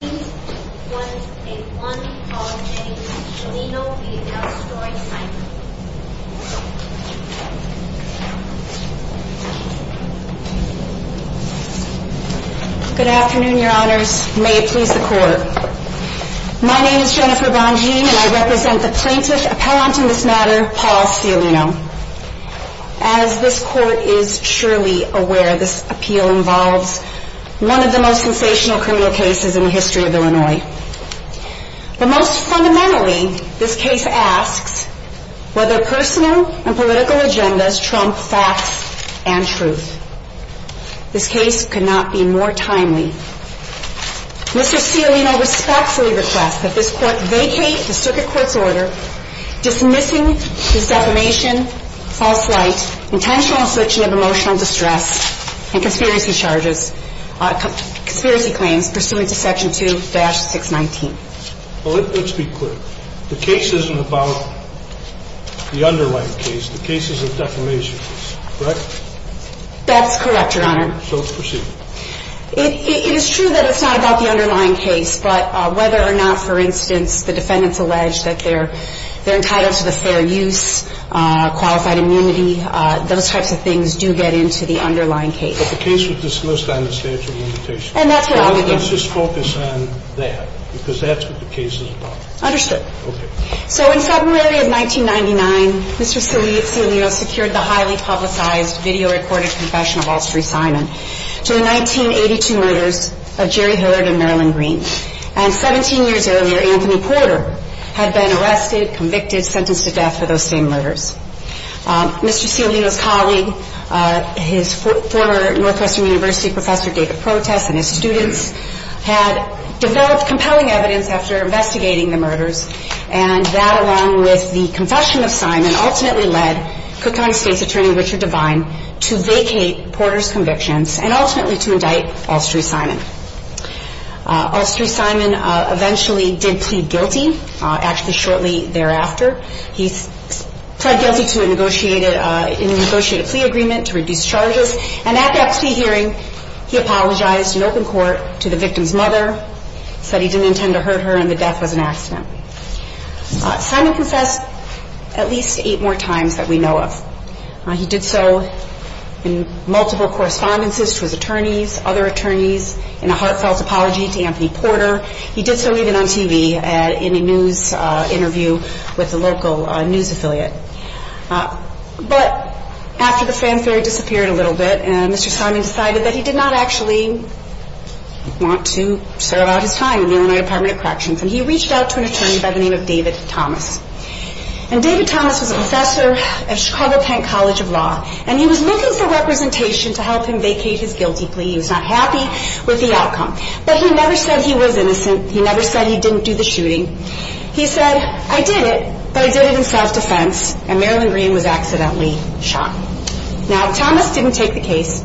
Good afternoon, your honors. May it please the court. My name is Jennifer Bongean, and I represent the plaintiff's appellant in this matter, Paul Stiolino. As this court is surely aware, this appeal involves one of the most sensational criminal cases in the history of human rights. But most fundamentally, this case asks whether personal and political agendas trump facts and truth. This case could not be more timely. Mr. Stiolino respectfully requests that this court vacate the circuit court's order dismissing his defamation, false rights, intentional searching of emotional distress, and conspiracy claims pursuant to section 2-619. Let's be clear. The case isn't about the underlying case. The case is a defamation case, correct? That's correct, your honor. So let's proceed. It is true that it's not about the underlying case, but whether or not, for instance, the defendants allege that they're entitled to the fair use, qualified immunity, those types of things do get into the underlying case. The case was dismissed on a statute of limitations. Let's just focus on that, because that's what the case is about. Understood. Okay. So in February of 1999, Mr. Stiolino secured the highly publicized, video-recorded confession of all three silence to the 1982 murder of Jerry Hillard and Marilyn Greene. And 17 years earlier, Anthony Porter had been arrested, convicted, sentenced to death for those same murders. Mr. Stiolino's colleague, his former Northwestern University professor, David Protest, and his students had developed compelling evidence after investigating the murders, and that, along with the confession of Simon, ultimately led Cook County State's attorney, Richard Devine, to vacate Porter's convictions, and ultimately to indict all three Simons. All three Simons eventually did plead guilty, actually shortly thereafter. He pled guilty to a negotiated, in a negotiated plea agreement to reduce charges, and at that plea hearing, he apologized in open court to the victim's mother, said he didn't intend to hurt her, and the death was an accident. Simon confessed at least eight more times than we know of. He did so in multiple correspondences with attorneys, other attorneys, and a heartfelt apology to Anthony Porter. He did so even on TV, in a news interview with a local news affiliate. But, after the fanfare disappeared a little bit, and Mr. Simon decided that he did not actually want to serve out his time in the Illinois Department of Corrections, and he reached out to an attorney by the name of David Thomas. And David Thomas was a professor at Chicago Penn College of Law, and he was looking for representation to help him vacate his guilty plea. He was not happy with the fact that he didn't do the shooting. He said, I did it, but I did it in self-defense, and Marilyn Greene was accidentally shot. Now, Thomas didn't take the case,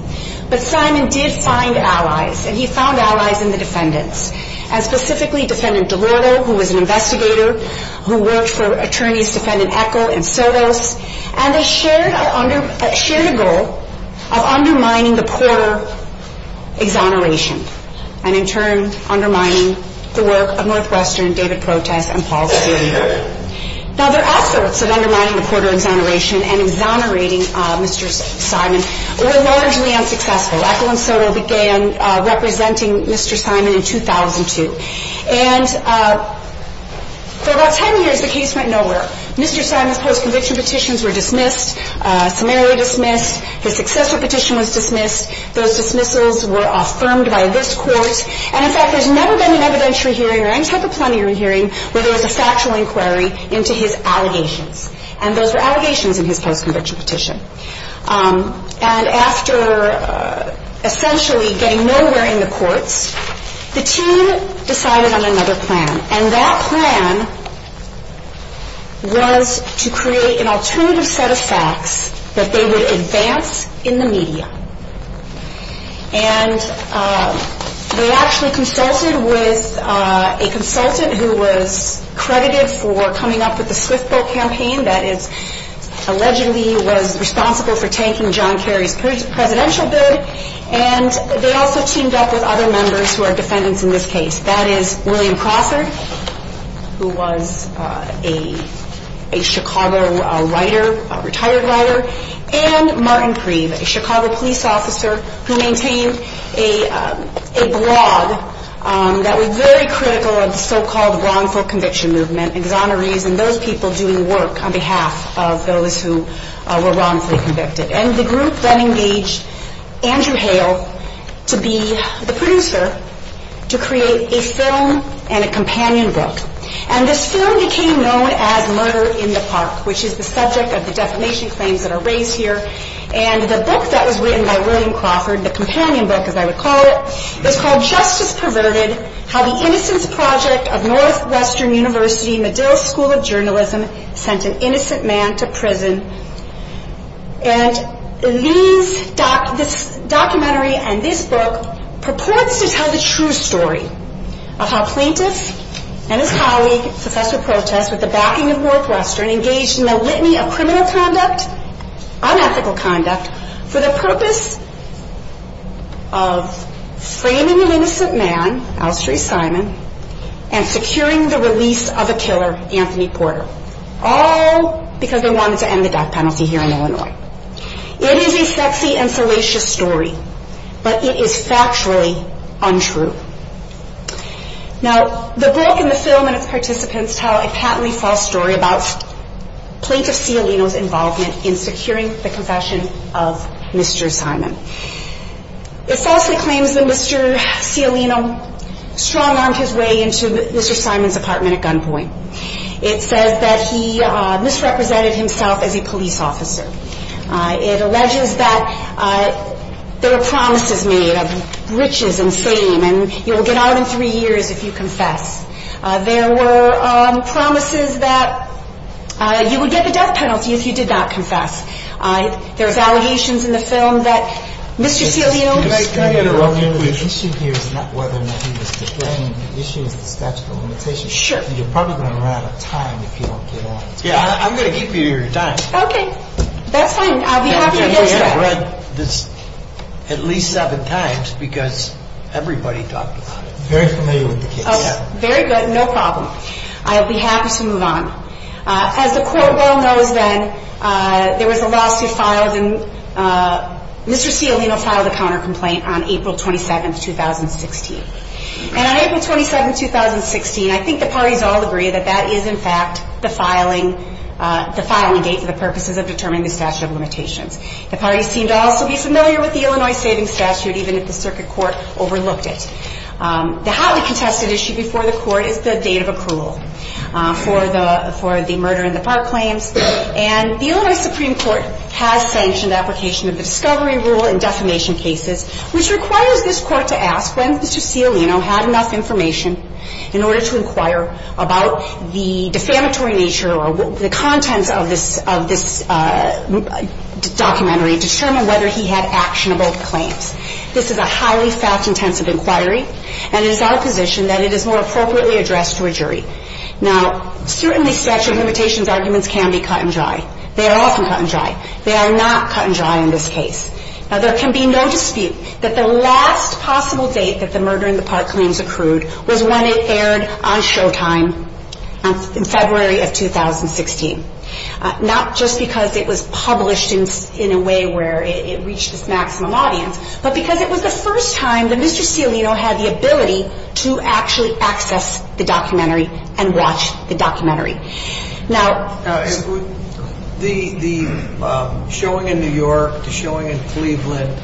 but Simon did find allies, and he found allies in the defendants, and specifically Defendant Delorto, who was an investigator, who worked for attorneys Defendant Echol and Soto, and shared a goal of undermining the Porter exoneration, and in turn, undermining the work of Northwestern, David Protest, and Paul Schoenberg. Now, their efforts of undermining the Porter exoneration and exonerating Mr. Simon were largely unsuccessful. Echol and Soto began representing Mr. Simon in 2002, and for about 10 years, the case went nowhere. Mr. Simon's post-conviction petitions were dismissed. His successor petition was dismissed. Those dismissals were affirmed by this court, and in fact, there's never been an evidentiary hearing or any type of plenary hearing where there was a factual inquiry into his allegations, and those were allegations in his post-conviction petition. And after essentially getting nowhere in the case, they came up with an alternative set of facts that they would advance in the media, and they actually consulted with a consultant who was credited for coming up with the Swift Vote campaign, that is, allegedly was responsible for taking John Kerry's presidential bid, and they also teamed up with other members who are defendants in this case. That is, William Crawford, who was a Chicago writer, a retired writer, and Martin Creed, a Chicago police officer who maintained a blog that was very critical of the so-called wrongful conviction movement, exonerees, and those people doing work on behalf of those who were wrongfully convicted. And the group then engaged Andrew Hale to be the producer to create a film and a companion book. And the film became known as Murder in the Park, which is the subject of the defamation claims that are raised here, and the book that was written by William Crawford, the companion book as I would call it, is called Justice Perverted, How the Innocence Project of Northwestern University, Medill School of Journalism, Sent an Innocent Man to Prison. And this documentary and this book purported to tell the true story of how Plinkus and a colleague, Professor Protest, with the backing of Northwestern, engaged in a litany of criminal conduct, unethical conduct, for the purpose of framing an innocent man, Alstreet Simon, and securing the release of a killer, Anthony Porter, all because they wanted to end the death penalty here in Illinois. It is a sexy and fallacious story, but it is factually untrue. Now, the book and the film and its participants tell a patently false story about Plinkus Cialino's involvement in securing the confession of Mr. Simon. It falsely claims that Mr. Cialino strung on his way into Mr. Simon's apartment at gunpoint. It says that he misrepresented himself as a police officer. It alleges that there are promises made of riches and fame, and you'll get out in three years if you confess. There were promises that you would get the death penalty if you did not confess. There are allegations in the film that Mr. Cialino... Can I get one minute of your time? Sure. You're probably going to run out of time if you don't get on. Yeah, I'm going to keep you here in time. Okay, that's fine. I'll be happy to move on. At least seven times, because everybody talked about it. Very good, no problem. I'll be happy to move on. As the court well knows then, there was a lawsuit filed, and Mr. Cialino filed a counter-complaint on April 27th, 2016. And on April 27th, 2016, I think the parties all agree that that is in fact the filing date and the purposes of determining the statute of limitations. The parties seem to also be familiar with the Illinois Savings Statute, even if the circuit court overlooked it. The highly contested issue before the court is the date of approval for the murder in the park claims, and the Illinois Supreme Court has sanctioned application of the discovery rule in defamation cases, which required this court to ask them if Mr. Cialino had enough information in order to inquire about the defamatory nature or the content of this documentary to determine whether he had actionable claims. This is a highly fact-intensive inquiry, and it is our position that it is more appropriately addressed to a jury. Now, certainly statute of limitations arguments can be cut and dry. They are often cut and dry. They are not cut and dry in this case. Now, there can be no dispute that the last possible date that the murder in the park claims accrued was when it aired on Showtime in February of 2016. Not just because it was published in a way where it reached its maximum audience, but because it was the first time that Mr. Cialino had the ability to actually access the documentary and watch the documentary. Now, the showing in New York, the showing in Cleveland,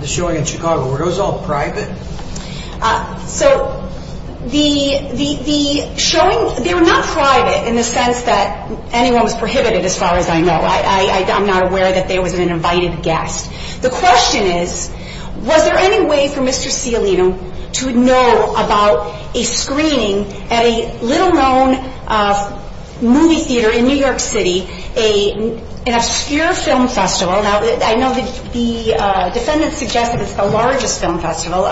the showing in Chicago, were those all private? So, the showing, they were not private in the sense that anyone was prohibited as far as I know. I'm not aware that they were an invited guest. The question is, was there any way for Mr. Cialino to know about a screening at a little-known movie theater in New York City, an obscure film festival? Now, I know the defendant suggested it was the largest film festival.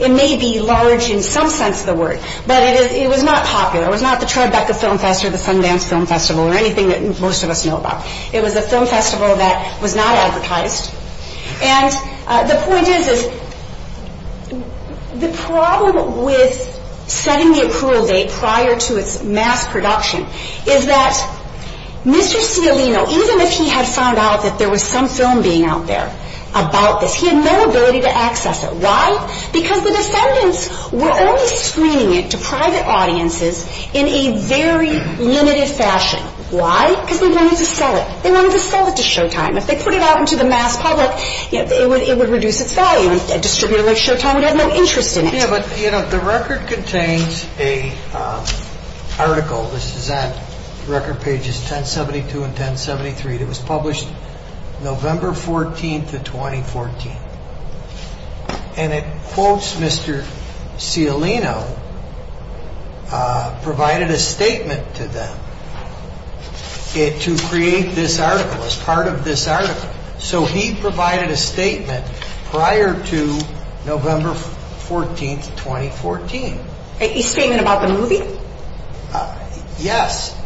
It may be large in some sense of the word, but it was not popular. It was not the Tribeca Film Festival or the Sundance Film Festival or anything that most of us know about. It was a film festival that was not advertised. And the point is, the problem with setting the approval date prior to its mass production is that Mr. Cialino, even if he had found out that there was some film being out there about this, he had no ability to access it. Why? Because the defendants were only screening it to private audiences in a very limited fashion. Why? Because they wanted to sell it. They wanted to sell it to Showtime. If they put it out into the mass public, it would reduce its value. And distributors like Showtime would have no interest in it. Yeah, but the record contains an article. This is at record pages 1072 and 1073. It was published November 14 to 2014. And it quotes Mr. Cialino, provided a statement to them to create this article, as part of this article. So, he provided a statement prior to November 14, 2014. A statement about the movie? Yes.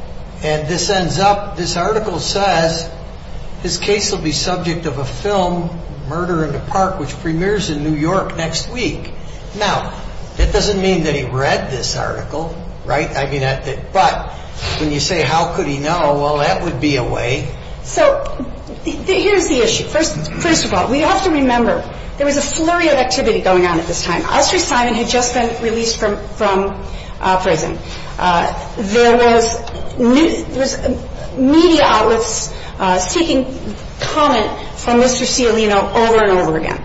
And this ends up, this article says his case will be subject of a film, Murder in the Park, which premieres in New York next week. Now, that does not mean that he read this article, right? I mean, but when you say how could he know, well, that would be a way. So, here is the issue. First of all, we also remember there was a flurry of activity going on at this time. Alfred Simon had just been released from prison. There was media outlets seeking comments from Mr. Cialino over and over again.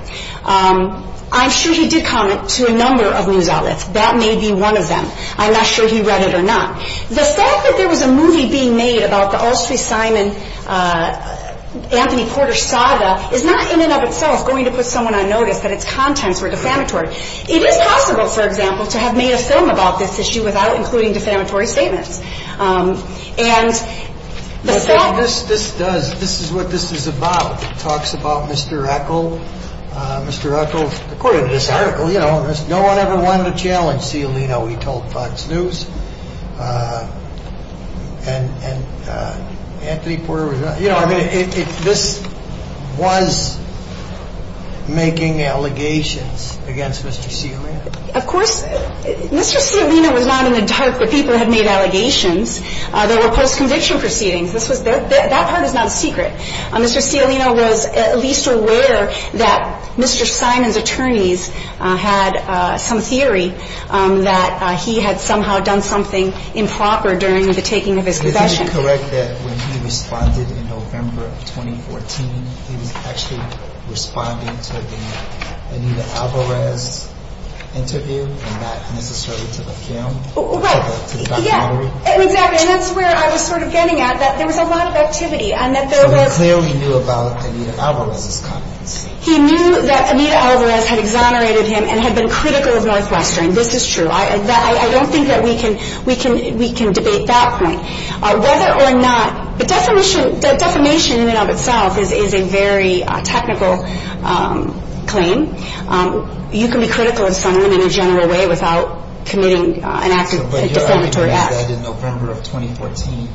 I'm sure he did comment to a number of news outlets. That may be one of them. I'm not sure he read it or not. The fact that there was a movie being made about the Alfred Simon, Anthony Porter's father is not, in and of itself, going to put someone on notice that its contents were defamatory. It is possible, for example, to have made a film about this issue without including defamatory statements. This is what this is about. It talks about Mr. Echol, Mr. Echol, according to this article, you know, no one ever won the challenge, Cialino, he told Fox News, and Anthony Porter, you know, this was making allegations against Mr. Cialino. Of course, Mr. Cialino was not in the dark that people had made allegations. There were post-conviction proceedings. That part is not secret. Mr. Cialino was at least aware that Mr. Simon's attorneys had some theory that he had somehow done something improper during the taking of his possession. Is it correct that when he was prosecuted in November of 2014, he was actually responding to the Anita Alvarez interview and not making sure it was a film? Yes, exactly, and that's where I was sort of getting at, that there was a lot of activity and that there were... He clearly knew about Anita Alvarez. He knew that Anita Alvarez had exonerated him and had been critical of my selection. This is true. I don't think that we can debate that point. Whether or not... The defamation in and of itself is a very technical claim. You can be critical of someone in a general way without committing an act of... But your argument is that in November of 2014,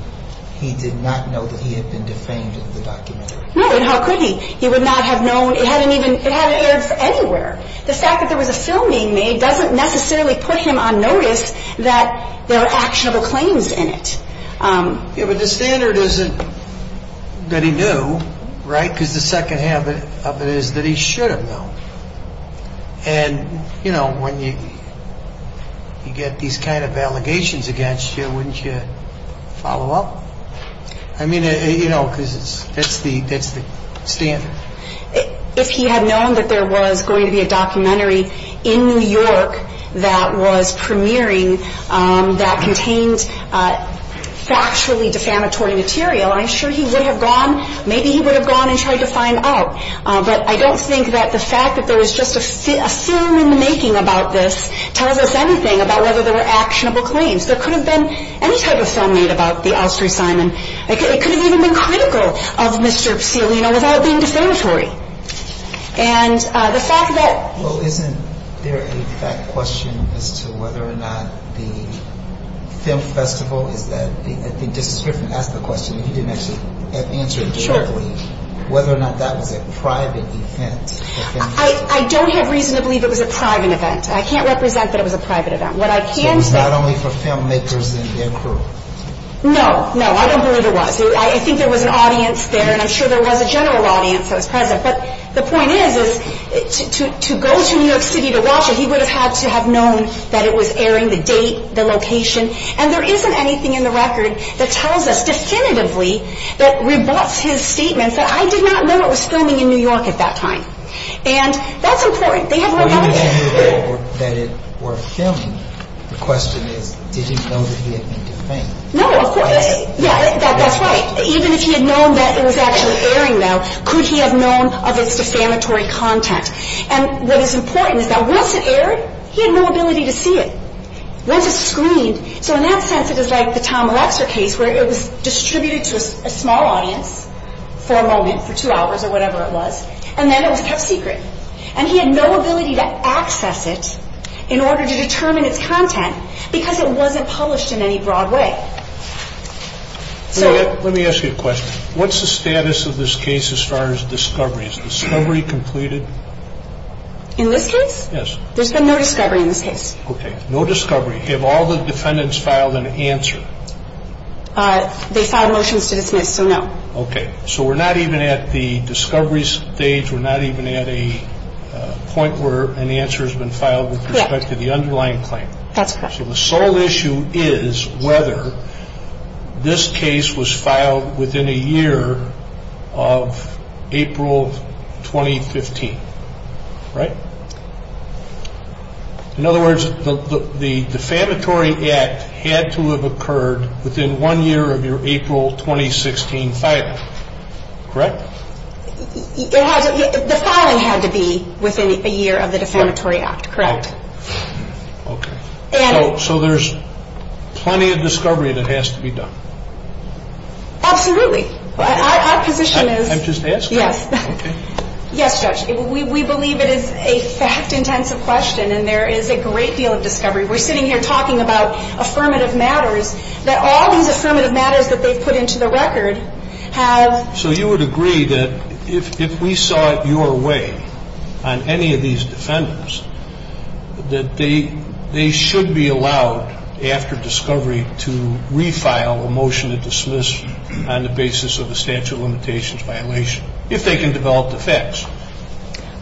he did not know that he had been defamed in the documentary. No, how could he? He would not have known... It hadn't aired anywhere. The fact that there was a documentary doesn't necessarily push him on notice that there are actionable claims in it. Yeah, but the standard isn't that he knew, right? Because the second half of it is that he should have known. And, you know, when you get these kind of allegations against you, wouldn't you follow up? I mean, you know, because that's the standard. If he had known that there was going to be a documentary in New York that was premiering that contained factually defamatory material, I'm sure he would have gone... Maybe he would have gone and tried to find out. But I don't think that the fact that there was just a film in the making about this tells us anything about whether there were actionable claims. There could have been any kind of thumbnail about the Austrian Simon. It could have even been critical of Mr. Fiorina without it being defamatory. And the fact that... Well, isn't there a fact question as to whether or not the film festival is that... He just certainly asked the question. He didn't actually answer it shortly. Whether or not that was a private event. I don't have reason to believe it was a private event. I can't represent that it was a private event. What I can say... It was not only for filmmakers and their crew. No, no. I don't believe it was. I think there was an audience there and I'm sure there was a general audience that was present. But the point is, to go to New York City to watch it, he would have had to have known that it was airing, the date, the location. And there isn't anything in the record that tells us definitively that rebuts his statement that I did not know it was filming in New York at that time. And that's uncertain. Even if he had known that it was actually airing, though, could he have known of its defamatory context? And what is important is that once it aired, he had no ability to see it. Once it screened... So in that sense, it was like the Tom Alexa case, where it was distributed to a small audience for a moment, for two hours or whatever it was. And then he had no ability to access it in order to determine its content because it wasn't published in any broad way. Let me ask you a question. What's the status of this case as far as discovery? Is discovery completed? In this case? Yes. There's been no discovery in this case. Okay. No discovery. Have all the defendants filed an answer? They filed motions to dismiss, so no. Okay. So we're not even at the discovery stage. We're not even at a point where an answer has been filed with respect to the underlying claim. That's correct. So the sole issue is whether this case was filed within a year of April 2015. Right? In other words, the defamatory act had to have occurred within one year of your April 2016 filing. Correct? The filing had to be within a year of the defamatory act. Correct. Okay. So there's plenty of discovery that has to be done. Absolutely. Our position is... I'm just asking. Yes. Yes, Judge. We believe it is a fact-intensive question and there is a great deal of discovery. We're sitting here talking about affirmative matters, that all these affirmative matters that they put into the record have... So you would agree that if we saw it your way on any of these defendants, that they should be allowed after discovery to refile a motion to dismiss on the basis of a statute of limitations violation, if they can develop the facts.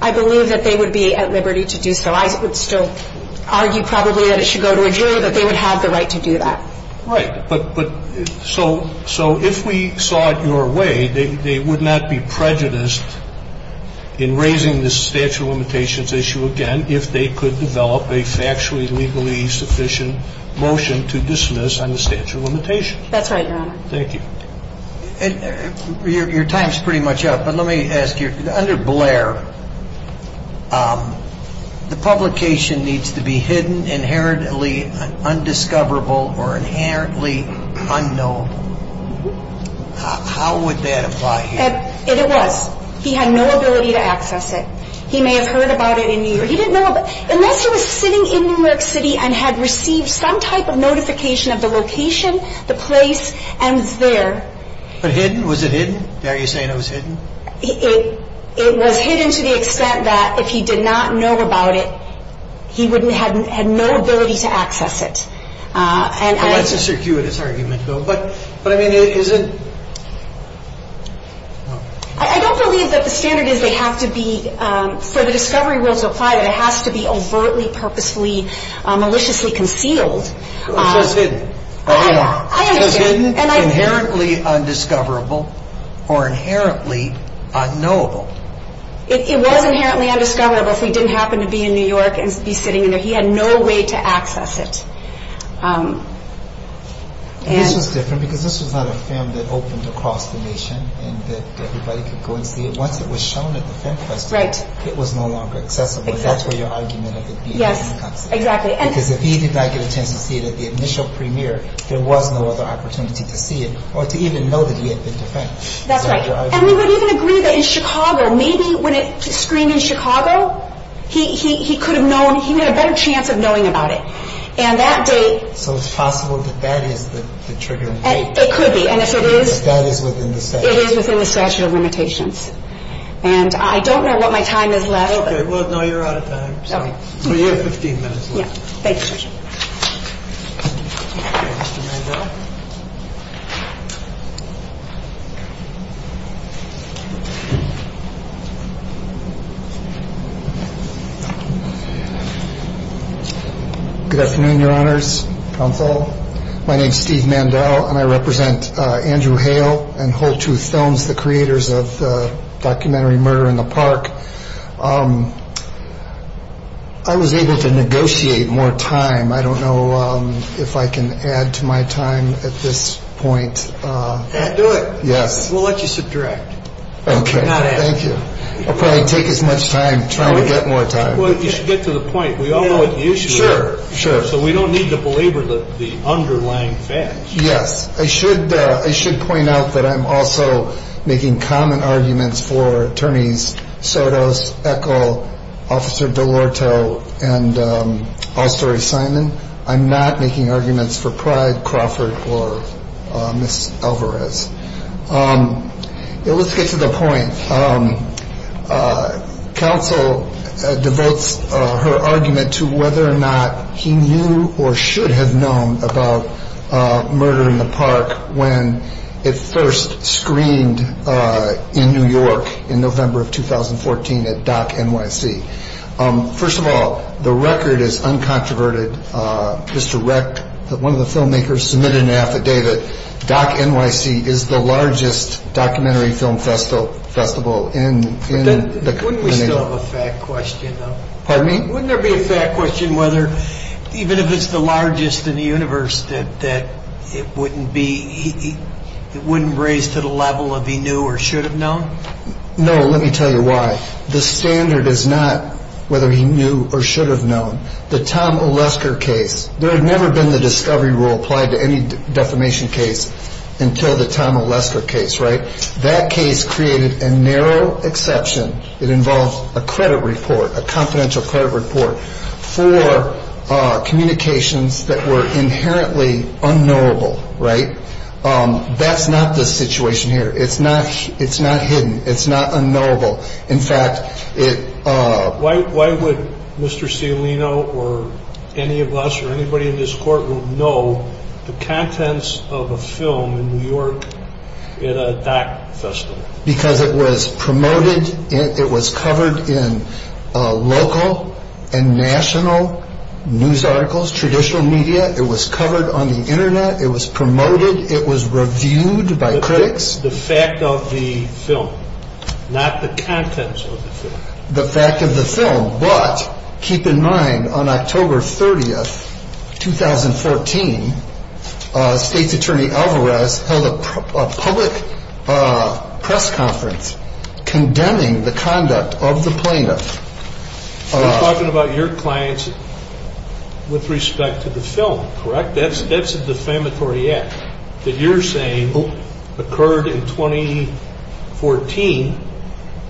I believe that they would be at liberty to do so. I would still argue probably that it should go to a jury, that they would have the right to do that. Right. So if we saw it your way, they would not be prejudiced in raising this statute of limitations issue again if they could develop a factually, legally sufficient motion to dismiss on the statute of limitations. That's right, Your Honor. Thank you. Your time is pretty much up, but let me ask you. Under Blair, the publication needs to be hidden, inherently undiscoverable, or inherently unknown. How would that apply here? It would. He had no ability to access it. He may have heard about it in New York. He didn't know about it. Unless he was sitting in New York City and had received some type of notification of the location, the place, and there. Was it hidden? Are you saying it was hidden? It was hidden to the extent that if he did not know about it, he would have no ability to access it. Well, that's a circuitous argument, though. But, I mean, is it? I don't believe that the standard is they have to be, for the discovery rules to apply, that it has to be overtly, purposely, maliciously concealed. It was hidden. It was hidden. Inherently undiscoverable, or inherently unknowable. It wasn't inherently undiscoverable if he didn't happen to be in New York and be sitting there. He had no way to access it. Just a second, because this is not a film that opens across the nation and that everybody could go and see it. It was shown in the film festival. It was no longer accessible. That's the argument of the theater. Yes, exactly. Because if he did not get a chance to see it at the initial premiere, there was no other opportunity to see it, or to even know that he had seen the film. That's right. And we would even agree that in Chicago, maybe when it screened in Chicago, he could have known, he had a better chance of knowing about it. So, it's possible that that is the trigger. It could be. And if it is, it is within the statute of limitations. And I don't know what my time is left. Well, no, you're out of time. You have 15 minutes left. Thank you. Good afternoon, your honors. My name is Steve Mandel, and I represent Andrew Hale and Whole Truth Films, the creators of the documentary Murder in the Park. I was able to negotiate more time. I don't know if I can add to my time at this point. Do it. Yes. We'll let you subdirect. Okay, thank you. I'll probably take as much time trying to get more time. Well, you should get to the point. Sure, sure. So, we don't need to belabor the underlying facts. Yes. I should point out that I'm also making common arguments for attorneys Sotos, Echol, Officer Delorto, and Bystory Simon. I'm not making arguments for Pride Crawford or Ms. Alvarez. Let's get to the point. Counsel devotes her argument to whether or not he knew or should have known about Murder in the Park when it first screened in New York in November of 2014 at Doc NYC. First of all, the record is uncontroverted. One of the filmmakers submitted an affidavit. Doc NYC is the largest documentary film festival in the country. Wouldn't there be a fact question whether, even if it's the largest in the universe, that it wouldn't raise to the level of he knew or should have known? No, let me tell you why. The Tom Oleska case. There had never been the discovery rule applied to any defamation case until the Tom Oleska case, right? That case created a narrow exception that involves a credit report, a confidential credit report, for communications that were inherently unknowable, right? That's not the situation here. It's not hidden. It's not unknowable. Why would Mr. Cialino or any of us or anybody in this courtroom know the contents of a film in New York at a doc festival? Because it was promoted. It was covered in local and national news articles, traditional media. It was covered on the internet. It was promoted. It was reviewed by critics. It's the fact of the film, not the contents of the film. The fact of the film, but keep in mind, on October 30th, 2014, State Attorney Alvarez held a public press conference condemning the conduct of the plaintiffs. You're talking about your clients with respect to the film, correct? That's a defamatory act that you're saying occurred in 2014,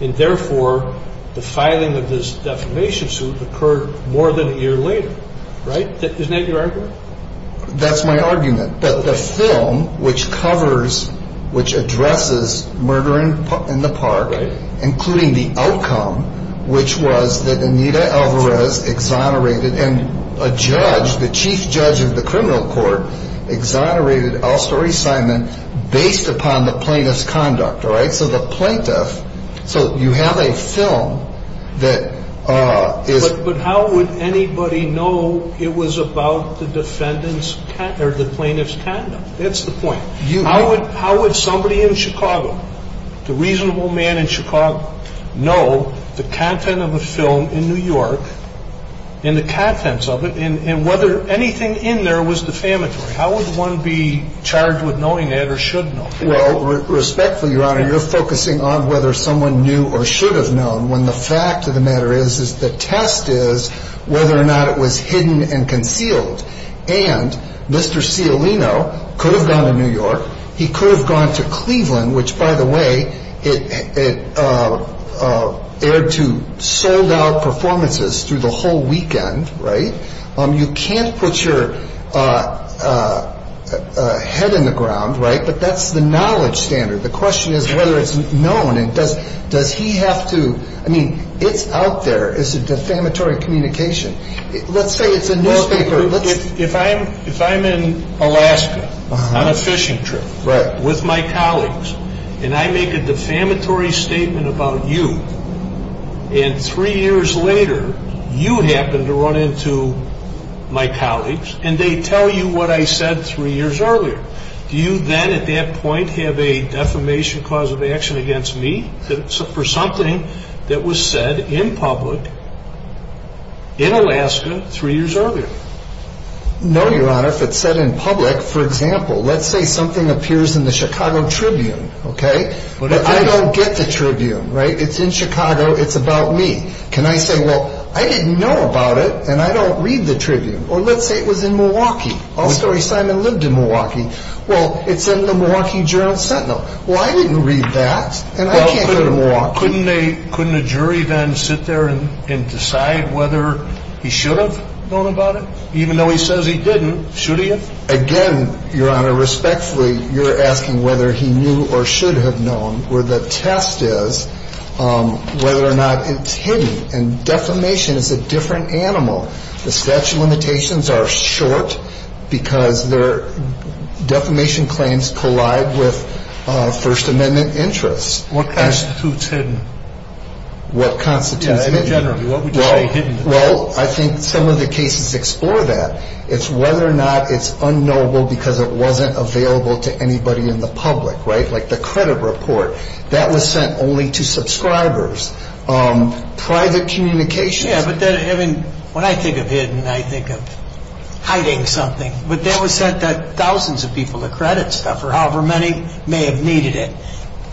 and therefore the filing of this defamation suit occurred more than a year later, right? Isn't that your argument? That's my argument, that the film, which covers, which addresses murder in the park, including the outcome, which was that Anita Alvarez exonerated, and a judge, the chief judge of the criminal court, exonerated Alcery Simons based upon the plaintiff's conduct, right? So the plaintiff, so you have a film that is... But how would anybody know it was about the defendant's, or the plaintiff's conduct? That's the point. How would somebody in Chicago, the reasonable man in Chicago, know the content of a film in New York, and the contents of it, and whether anything in there was defamatory? How would one be charged with knowing it, or should know it? Well, respectfully, Your Honor, you're focusing on whether someone knew or should have known, when the fact of the matter is that the test is whether or not it was hidden and concealed. And Mr. Sciolino could have gone to New York, he could have gone to Cleveland, which, by the way, aired two sold-out performances through the whole weekend, right? You can't put your head in the ground, right? But that's the knowledge standard. The question is whether it's known, and does he have to... I mean, it's out there, it's a defamatory communication. If I'm in Alaska on a fishing trip with my colleagues, and I make a defamatory statement about you, and three years later you happen to run into my colleagues, and they tell you what I said three years earlier, do you then, at that point, have a defamation cause of action against me for something that was said in public in Alaska three years earlier? No, Your Honor, if it's said in public, for example, let's say something appears in the Chicago Tribune, okay? But I don't get the Tribune, right? It's in Chicago, it's about me. Can I say, well, I didn't know about it, and I don't read the Tribune. Or let's say it was in Milwaukee. Oh, sorry, Simon lived in Milwaukee. Well, it's in the Milwaukee Journal Sentinel. Well, I didn't read that. Couldn't a jury then sit there and decide whether he should have known about it? Even though he says he didn't, should he have? Again, Your Honor, respectfully, you're asking whether he knew or should have known, where the test is whether or not it's hidden, and defamation is a different animal. The statute of limitations are short because defamation claims collide with First Amendment interests. What constitutes hidden? What constitutes hidden? Well, I think some of the cases explore that. It's whether or not it's unknowable because it wasn't available to anybody in the public, right? Like the credit report, that was sent only to subscribers. Private communication? Yeah, but when I think of hidden, I think of hiding something. But that was sent to thousands of people, the credit stuff, or however many may have needed it,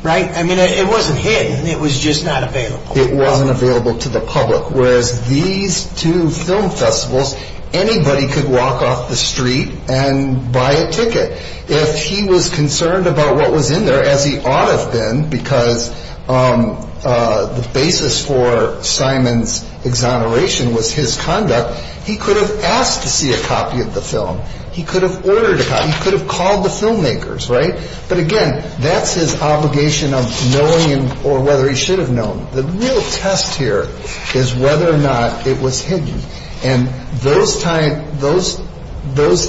right? I mean, it wasn't hidden, it was just not available. It wasn't available to the public, whereas these two film festivals, anybody could walk off the street and buy a ticket. If he was concerned about what was in there, as he ought to have been, because the basis for Simon's exoneration was his conduct, he could have asked to see a copy of the film. He could have ordered a copy. He could have called the filmmakers, right? But again, that's his obligation of knowing or whether he should have known. The real test here is whether or not it was hidden. And those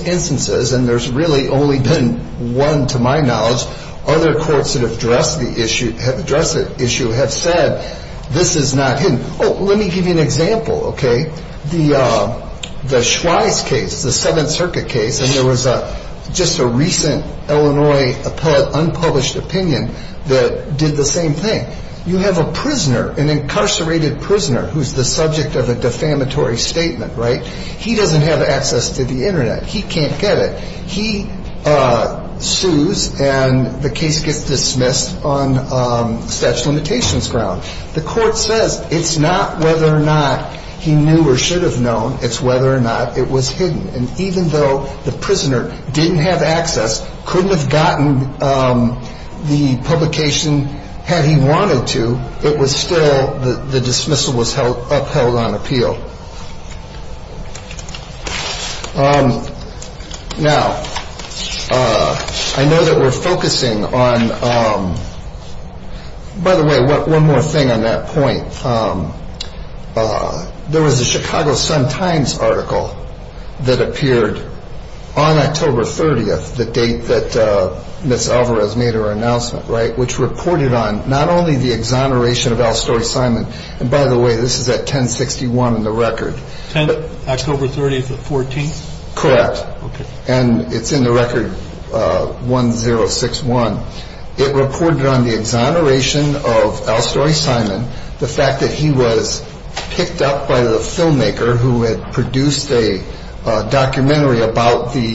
instances, and there's really only been one to my knowledge, other courts that have addressed the issue have said this is not hidden. Oh, let me give you an example, okay? The Schweitz case, the Seventh Circuit case, and there was just a recent Illinois unpublished opinion that did the same thing. You have a prisoner, an incarcerated prisoner, who's the subject of a defamatory statement, right? He doesn't have access to the Internet. He can't get it. He sues, and the case gets dismissed on special implications grounds. The court says it's not whether or not he knew or should have known. It's whether or not it was hidden. And even though the prisoner didn't have access, couldn't have gotten the publication had he wanted to, it was still, the dismissal was upheld on appeal. Now, I know that we're focusing on, by the way, one more thing on that point. There was a Chicago Sun-Times article that appeared on October 30th, the date that Ms. Alvarez made her announcement, right, which reported on not only the exoneration of Alstor Simon, and by the way, this is at 1061 in the record. October 30th was 14th? Correct. Okay. And it's in the record 1061. It reported on the exoneration of Alstor Simon, the fact that he was picked up by the filmmaker who had produced a documentary about the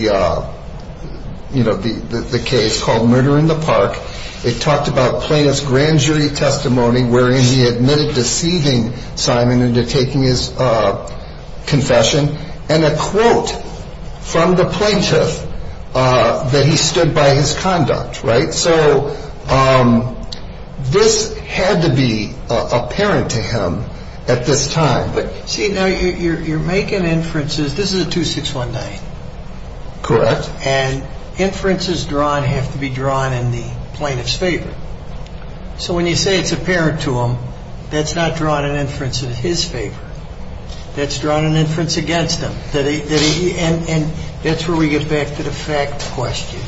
case called Murder in the Park. It talked about plaintiff's grand jury testimony, wherein he admitted deceiving Simon into taking his confession, and a quote from the plaintiff that he stood by his conduct, right? So this had to be apparent to him at this time. See, now you're making inferences. This is a 2619. Correct. And inferences drawn have to be drawn in the plaintiff's favor. So when you say it's apparent to him, that's not drawing an inference in his favor. That's drawing an inference against him. And that's where we get back to the fact question.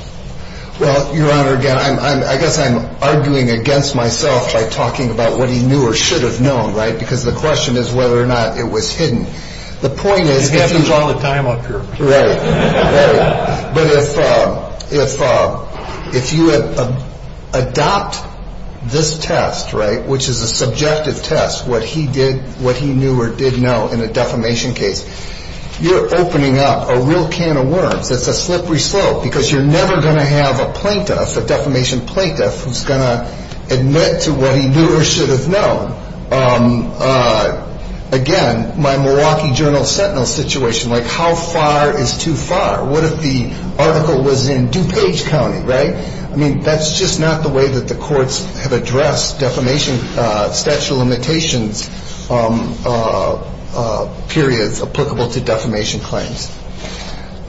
Well, Your Honor, again, I guess I'm arguing against myself by talking about what he knew or should have known, right, because the question is whether or not it was hidden. The point is he had to draw the time on purpose. Right. But if you adopt this test, right, which is a subjective test, what he knew or did know in a defamation case, you're opening up a real can of worms that's a slippery slope, because you're never going to have a plaintiff, a defamation plaintiff, who's going to admit to what he knew or should have known. Again, my Milwaukee Journal Sentinel situation, like how far is too far? What if the article was in DuPage County, right? I mean, that's just not the way that the courts have addressed defamation statute of limitations periods applicable to defamation claims.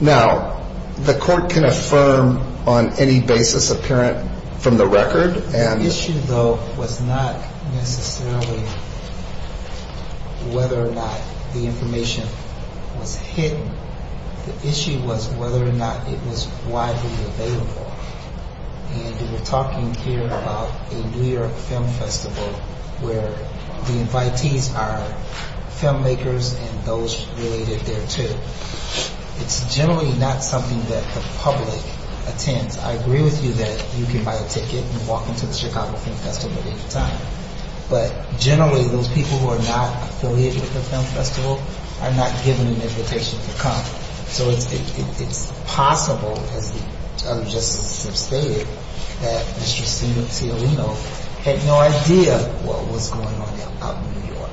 Now, the court can affirm on any basis apparent from the record. The issue, though, was not necessarily whether or not the information was hidden. The issue was whether or not it was widely available. I mean, if you were talking here about the New York Film Festival, where the invitees are filmmakers and those related there, too, it's generally not something that the public attends. I agree with you that you can buy a ticket and walk into the Chicago Film Festival at any time. But generally, those people who are not affiliated with the film festival are not given an invitation to come. So it's possible, as the other justices have stated, that Mr. Steven Filino had no idea what was going on out in New York.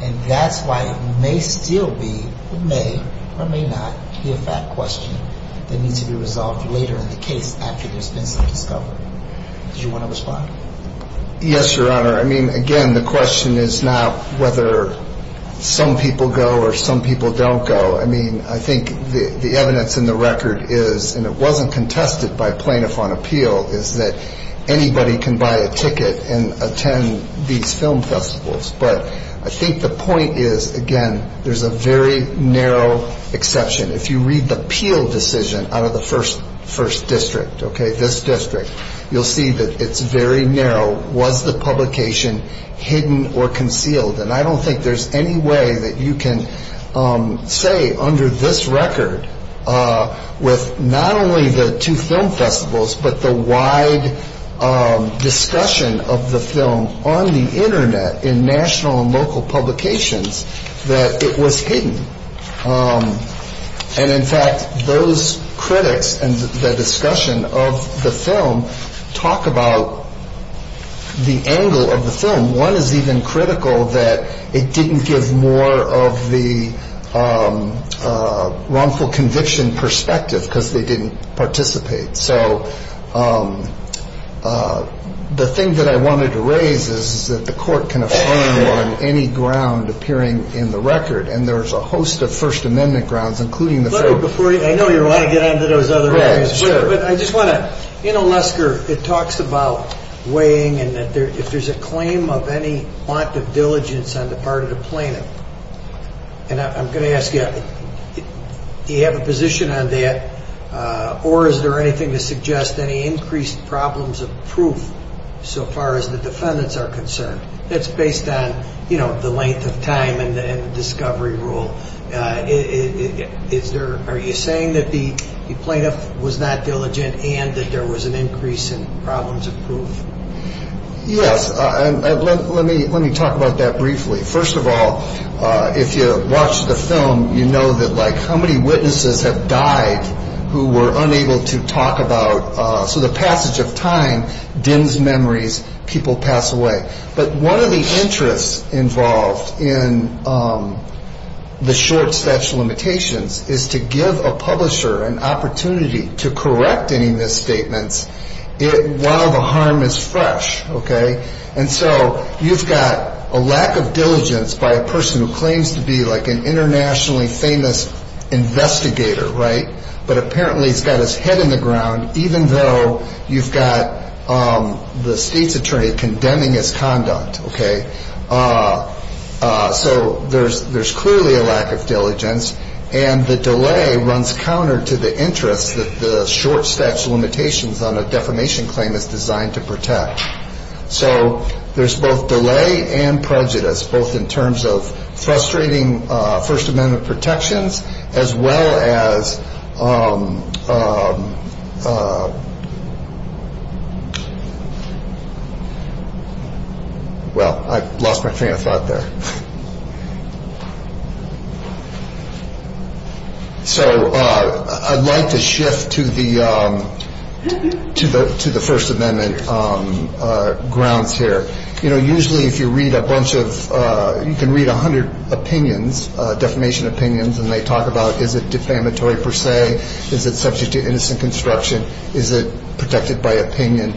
And that's why it may still be, or may, or may not, they need to be resolved later in the case after this thing is over. Do you want to respond? Yes, Your Honor. I mean, again, the question is not whether some people go or some people don't go. I mean, I think the evidence in the record is, and it wasn't contested by plaintiff on appeal, is that anybody can buy a ticket and attend these film festivals. But I think the point is, again, there's a very narrow exception. If you read the appeal decision out of the first district, this district, you'll see that it's very narrow. Was the publication hidden or concealed? And I don't think there's any way that you can say under this record, with not only the two film festivals, but the wide discussion of the film on the Internet in national and local publications, that it was hidden. And, in fact, those critics and the discussion of the film talk about the angle of the film. One is even critical that it didn't give more of the wrongful conviction perspective because they didn't participate. So the thing that I wanted to raise is that the court can affirm on any ground appearing in the record, and there was a host of First Amendment grounds, including the court. Let me, before you, I know you want to get on to those other things. Yes, sure. But I just want to, in Olesker, it talks about weighing and that there, if there's a claim of any want of diligence on the part of the plaintiff, and I'm going to ask you, do you have a position on that? Or is there anything to suggest any increased problems of proof, so far as the defendants are concerned? It's based on, you know, the length of time and the discovery rule. Is there, are you saying that the plaintiff was not diligent and that there was an increase in problems of proof? Yes, let me talk about that briefly. First of all, if you watch the film, you know that like how many witnesses have died who were unable to talk about, so the passage of time dims memories, people pass away. But one of the interests involved in the short stretch limitations is to give a publisher an opportunity to correct any misstatements while the harm is fresh, okay? And so you've got a lack of diligence by a person who claims to be like an internationally famous investigator, right? But apparently he's got his head in the ground, even though you've got the state's attorney condemning his conduct, okay? So there's clearly a lack of diligence, and the delay runs counter to the interest that the short stretch limitations on a defamation claim is designed to protect. So there's both delay and prejudice, both in terms of frustrating first amendment protections as well as, well, I lost my trance out there. So I'd like to shift to the first amendment grounds here. You know, usually if you read a bunch of, you can read a hundred opinions, defamation opinions, and they talk about is it defamatory per se, is it subject to innocent construction, is it protected by opinion,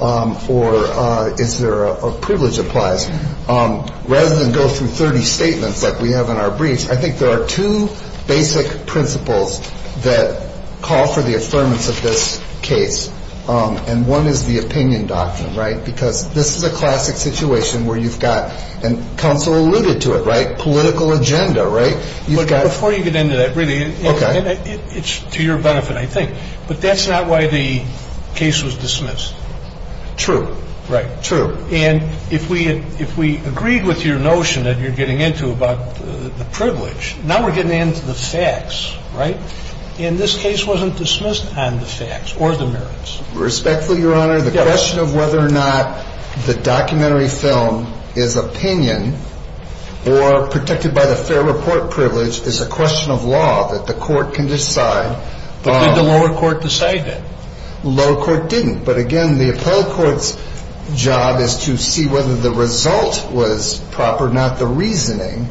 or is there a privilege applied? Rather than go through 30 statements like we have in our briefs, I think there are two basic principles that call for the assurance of this case. And one is the opinion doctrine, right? Because this is a classic situation where you've got, and counsel alluded to it, right? Political agenda, right? Before you get into that, really, it's to your benefit, I think, but that's not why the case was dismissed. True. Right. True. And if we agreed with your notion that you're getting into about the privilege, now we're getting into the facts, right? And this case wasn't dismissed on the facts or the merits. Respectfully, Your Honor, the question of whether or not the documentary film is opinion or protected by the fair report privilege is a question of law that the court can decide. But did the lower court decide that? The lower court didn't. But, again, the appellate court's job is to see whether the result was proper, not the reasoning.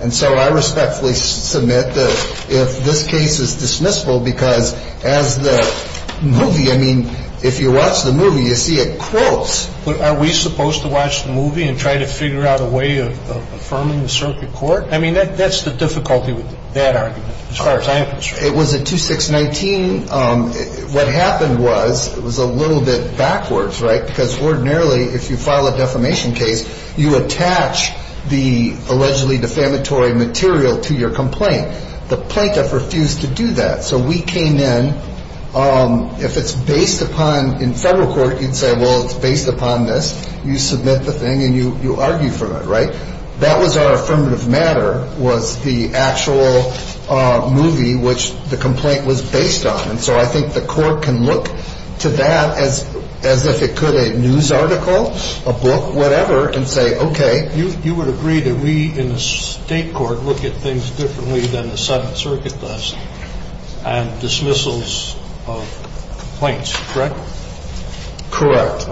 And so I respectfully submit that if this case is dismissible because as the movie, I mean, if you watch the movie, you see a quote. But are we supposed to watch the movie and try to figure out a way of confirming the circuit court? I mean, that's the difficulty with that argument, as far as I'm concerned. It was a 2619. What happened was it was a little bit backwards, right? Because ordinarily, if you file a defamation case, you attach the allegedly defamatory material to your complaint. The plaintiff refused to do that. So we came in. If it's based upon in federal court, you'd say, well, it's based upon this. You submit the thing and you argue for it, right? That was our affirmative matter, was the actual movie which the complaint was based on. And so I think the court can look to that as if it could a news article, a book, whatever, and say, okay. You would agree that we in the state court look at things differently than the Southern Circuit does and dismissals of complaints, correct? Correct.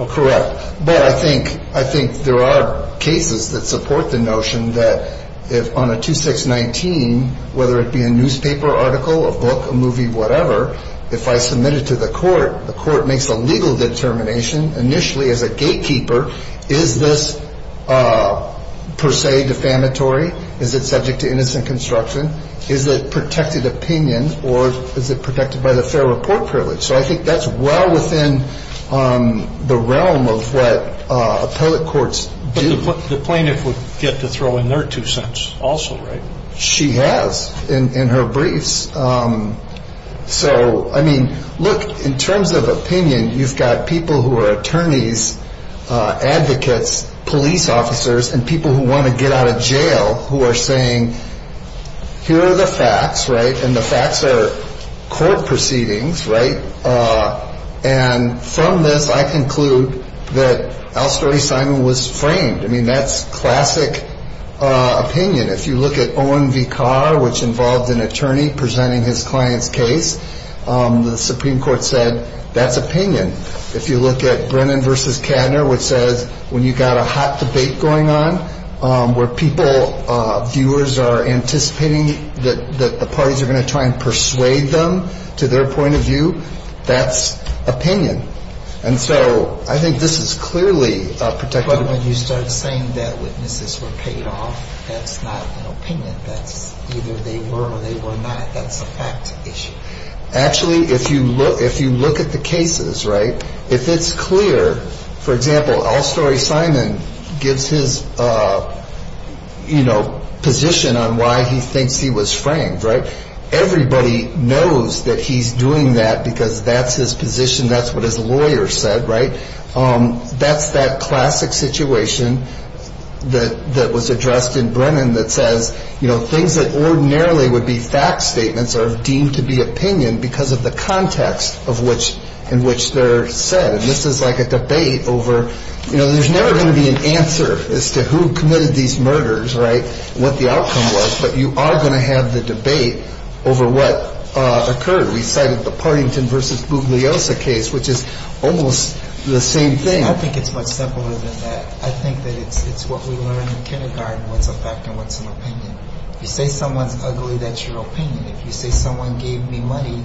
But I think there are cases that support the notion that if on a 2619, whether it be a newspaper article, a book, a movie, whatever, if I submit it to the court, the court makes a legal determination initially as a gatekeeper. Is this per se defamatory? Is it subject to innocent construction? Is it protected opinion or is it protected by the fair report privilege? So I think that's well within the realm of what appellate courts do. The plaintiff would get to throw in their two cents also, right? She has in her briefs. So, I mean, look, in terms of opinion, you've got people who are attorneys, advocates, police officers, and people who want to get out of jail who are saying, here are the facts, right? And the facts are court proceedings, right? And from this, I conclude that Al Story Simon was framed. I mean, that's classic opinion. If you look at Owen V. Carr, which involved an attorney presenting his client's case, the Supreme Court said that's opinion. If you look at Brennan V. Kanner, which says when you've got a hot debate going on where people, viewers, are anticipating that the parties are going to try and persuade them to their point of view, that's opinion. And so I think this is clearly a protected opinion. But when you start saying that witnesses were paid off, that's not an opinion. Either they were or they were not. That's a fact issue. Actually, if you look at the cases, right, if it's clear, for example, Al Story Simon gives his position on why he thinks he was framed, right? Everybody knows that he's doing that because that's his position. That's what his lawyer said, right? That's that classic situation that was addressed in Brennan that says, you know, things that ordinarily would be fact statements are deemed to be opinion because of the context in which they're said. And this is like a debate over, you know, there's never going to be an answer as to who committed these murders, right, what the outcome was, but you are going to have the debate over what occurred. We started with the Partington v. Bugliosa case, which is almost the same thing. I think it's much simpler than that. I think that it's what we learned in kindergarten was a fact statement is an opinion. You say someone's ugly, that's your opinion. If you say someone gave me money,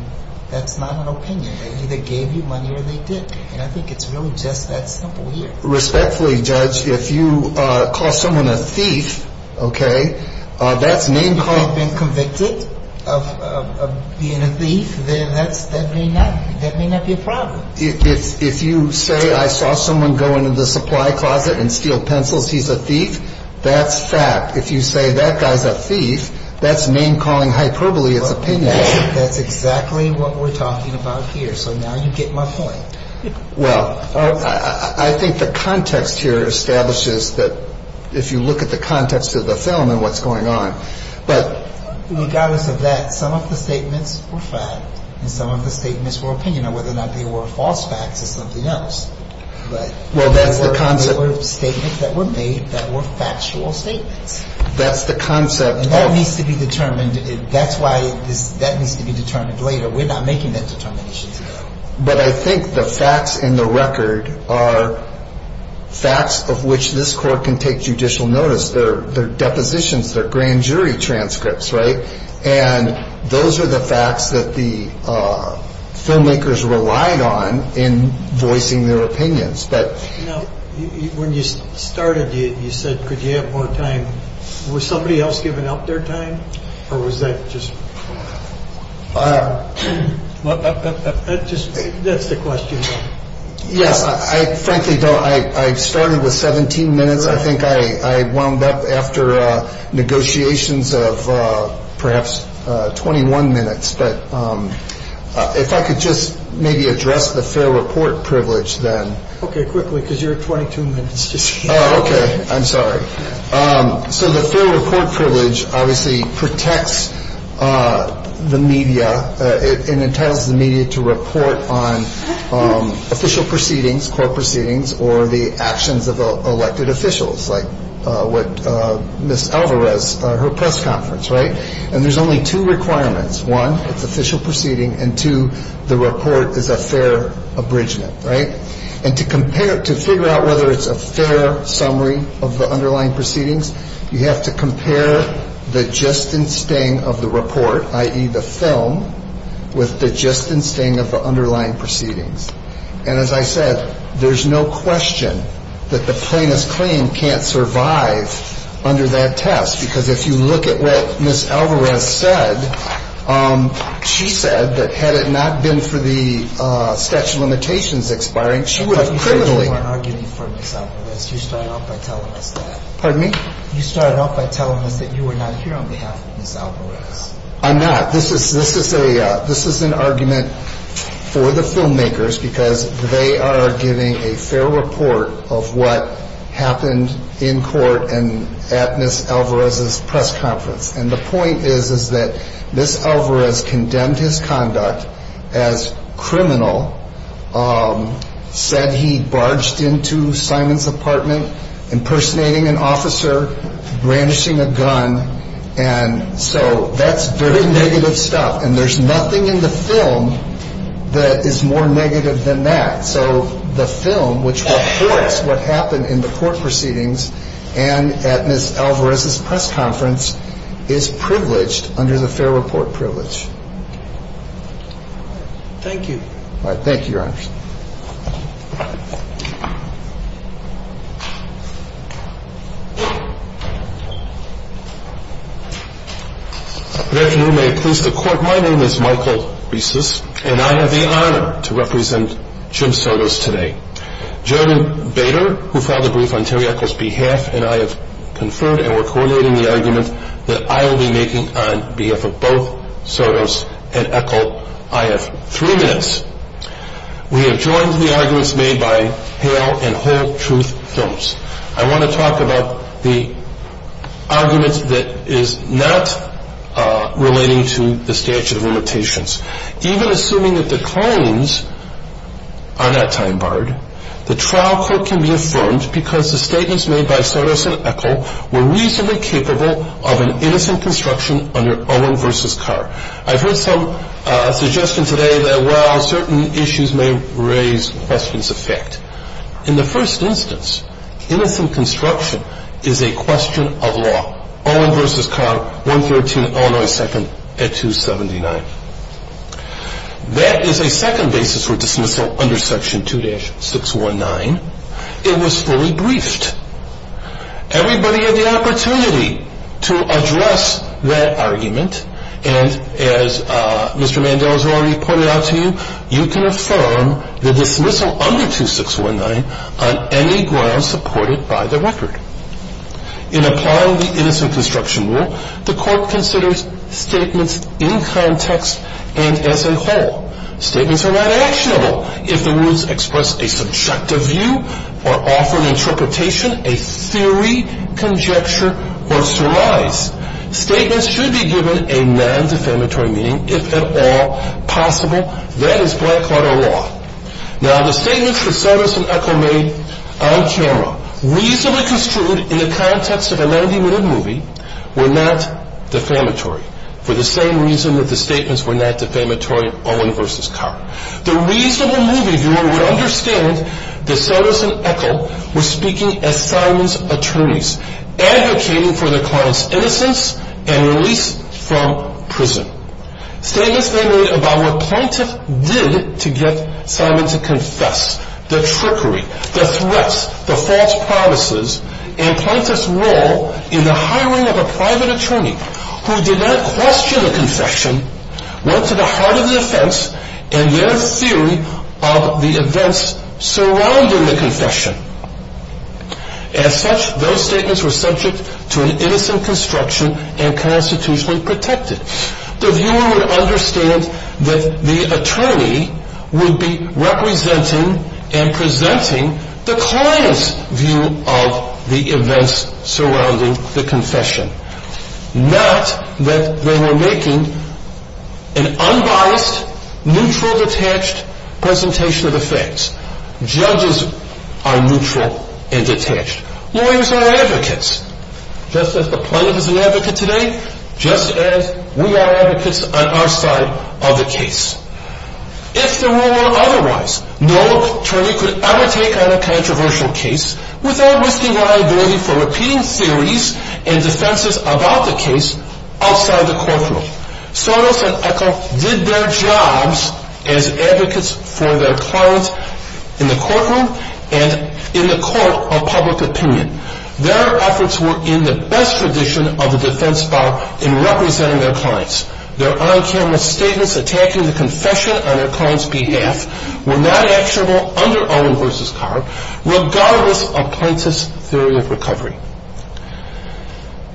that's not an opinion. They either gave you money or they didn't. And I think it's really just that simple. Respectfully, Judge, if you call someone a thief, okay, that may not have been convicted of being a thief, then that may not be a problem. If you say I saw someone go into the supply closet and steal pencils, he's a thief, that's fact. If you say that guy's a thief, that's name-calling hyperbole of opinion. That's exactly what we're talking about here, so now you get my point. Well, I think the context here establishes that if you look at the context of the film and what's going on. Regardless of that, some of the statements were fact and some of the statements were opinion or whether or not they were false facts or something else. But there were statements that were made that were factual statements. That's the concept. And that needs to be determined. That's why that needs to be determined later. We're not making that determination. But I think the facts in the record are facts of which this Court can take judicial notice. They're depositions. They're grand jury transcripts, right? And those are the facts that the filmmakers relied on in voicing their opinions. Now, when you started, you said could you have more time. Was somebody else giving out their time or was that just... That's the question. Yeah, I frankly don't... I started with 17 minutes. I think I wound up after negotiations of perhaps 21 minutes. But if I could just maybe address the fair report privilege then. Okay, quickly, because you're at 22 minutes. Oh, okay. I'm sorry. So the fair report privilege obviously protects the media and entitles the media to report on official proceedings, court proceedings, or the actions of elected officials like what Ms. Alvarez, her press conference, right? And there's only two requirements. One, it's an official proceeding. And two, the report is a fair abridgment, right? And to figure out whether it's a fair summary of the underlying proceedings, you have to compare the just in sting of the report, i.e. the film, with the just in sting of the underlying proceedings. And as I said, there's no question that the plainest claim can't survive under that test because if you look at what Ms. Alvarez said, she said that had it not been for the statute of limitations expiring, she would have... You are arguing for the fact that you started off by telling them that. Pardon me? You started off by telling them that you were not here on behalf of Ms. Alvarez. I'm not. This is an argument for the filmmakers because they are getting a fair report of what happened in court and at Ms. Alvarez's press conference. And the point is that Ms. Alvarez condemned his conduct as criminal, said he barged into Simon's apartment, impersonating an officer, brandishing a gun, and so that's very negative stuff. And there's nothing in the film that is more negative than that. So the film, which shows what happened in the court proceedings and at Ms. Alvarez's press conference, is privileged under the fair report privilege. Thank you. All right. Thank you, Your Honor. Your Honor, you may close the court. My name is Michael Beasis, and I have the honor to represent Jim Sotos today. Jeremy Bader, who filed the brief on Terry Echol's behalf, and I have conferred and we're coordinating the argument that I will be making on behalf of both Sotos and Echol. I have three minutes. We have joined the arguments made by Hale and Whole Truth Films. I want to talk about the argument that is not relating to the statute of limitations. Even assuming that the claims are not time-barred, the trial court can be affirmed because the statements made by Sotos and Echol were reasonably capable of an innocent construction under Owen v. Carr. I heard from a suggestion today that while certain issues may raise questions of fact, in the first instance, innocent construction is a question of law, Owen v. Carr, 113 Illinois 2nd at 279. That is a second basis for dismissal under section 2-619. It was fully briefed. Everybody had the opportunity to address that argument, and as Mr. Mando has already pointed out to you, you can affirm the dismissal under 2-619 on any grounds supported by the record. In applying the innocent construction rule, the court considers statements in context and as a whole. Statements are not actionable. If the rules express a subjective view or offer an interpretation, a theory, conjecture, or theories, statements should be given a non-defamatory meaning, if at all possible. That is Blackwater law. Now, the statements from Sotos and Echol made on camera, reasonably construed in the context of a 90-minute movie, were not defamatory for the same reason that the statements were not defamatory of Owen v. Carr. The reads of the movie, if you will, would understand that Sotos and Echol were speaking as felons' attorneys, advocating for the client's innocence and release from prison. Saying the same thing about what plaintiffs did to get someone to confess, the trickery, the threats, the false promises, and plaintiffs' role in the hiring of a private attorney who did not question the confession, went to the heart of the offense and the other field of the events surrounding the confession. As such, those statements were subject to an innocent construction and constitutionally protected. The viewer would understand that the attorney would be representing and presenting the client's view of the events surrounding the confession. Not that they were making an unbiased, neutral, detached presentation of the facts. Judges are neutral and detached. Lawyers are advocates. Just as the plaintiff is an advocate today, just as we are advocates on our side of the case. If the rule were otherwise, no attorney could undertake on a controversial case without risking liability for repeating theories and defenses about the case outside the courtroom. Sotos and Echol did their jobs as advocates for their clients in the courtroom and in the court of public opinion. Their efforts were in the best position of the defense bar in representing their clients. Their on-camera statements attacking the confession on their client's behalf were not actionable under Owen versus Carr, regardless of plaintiff's theory of recovery.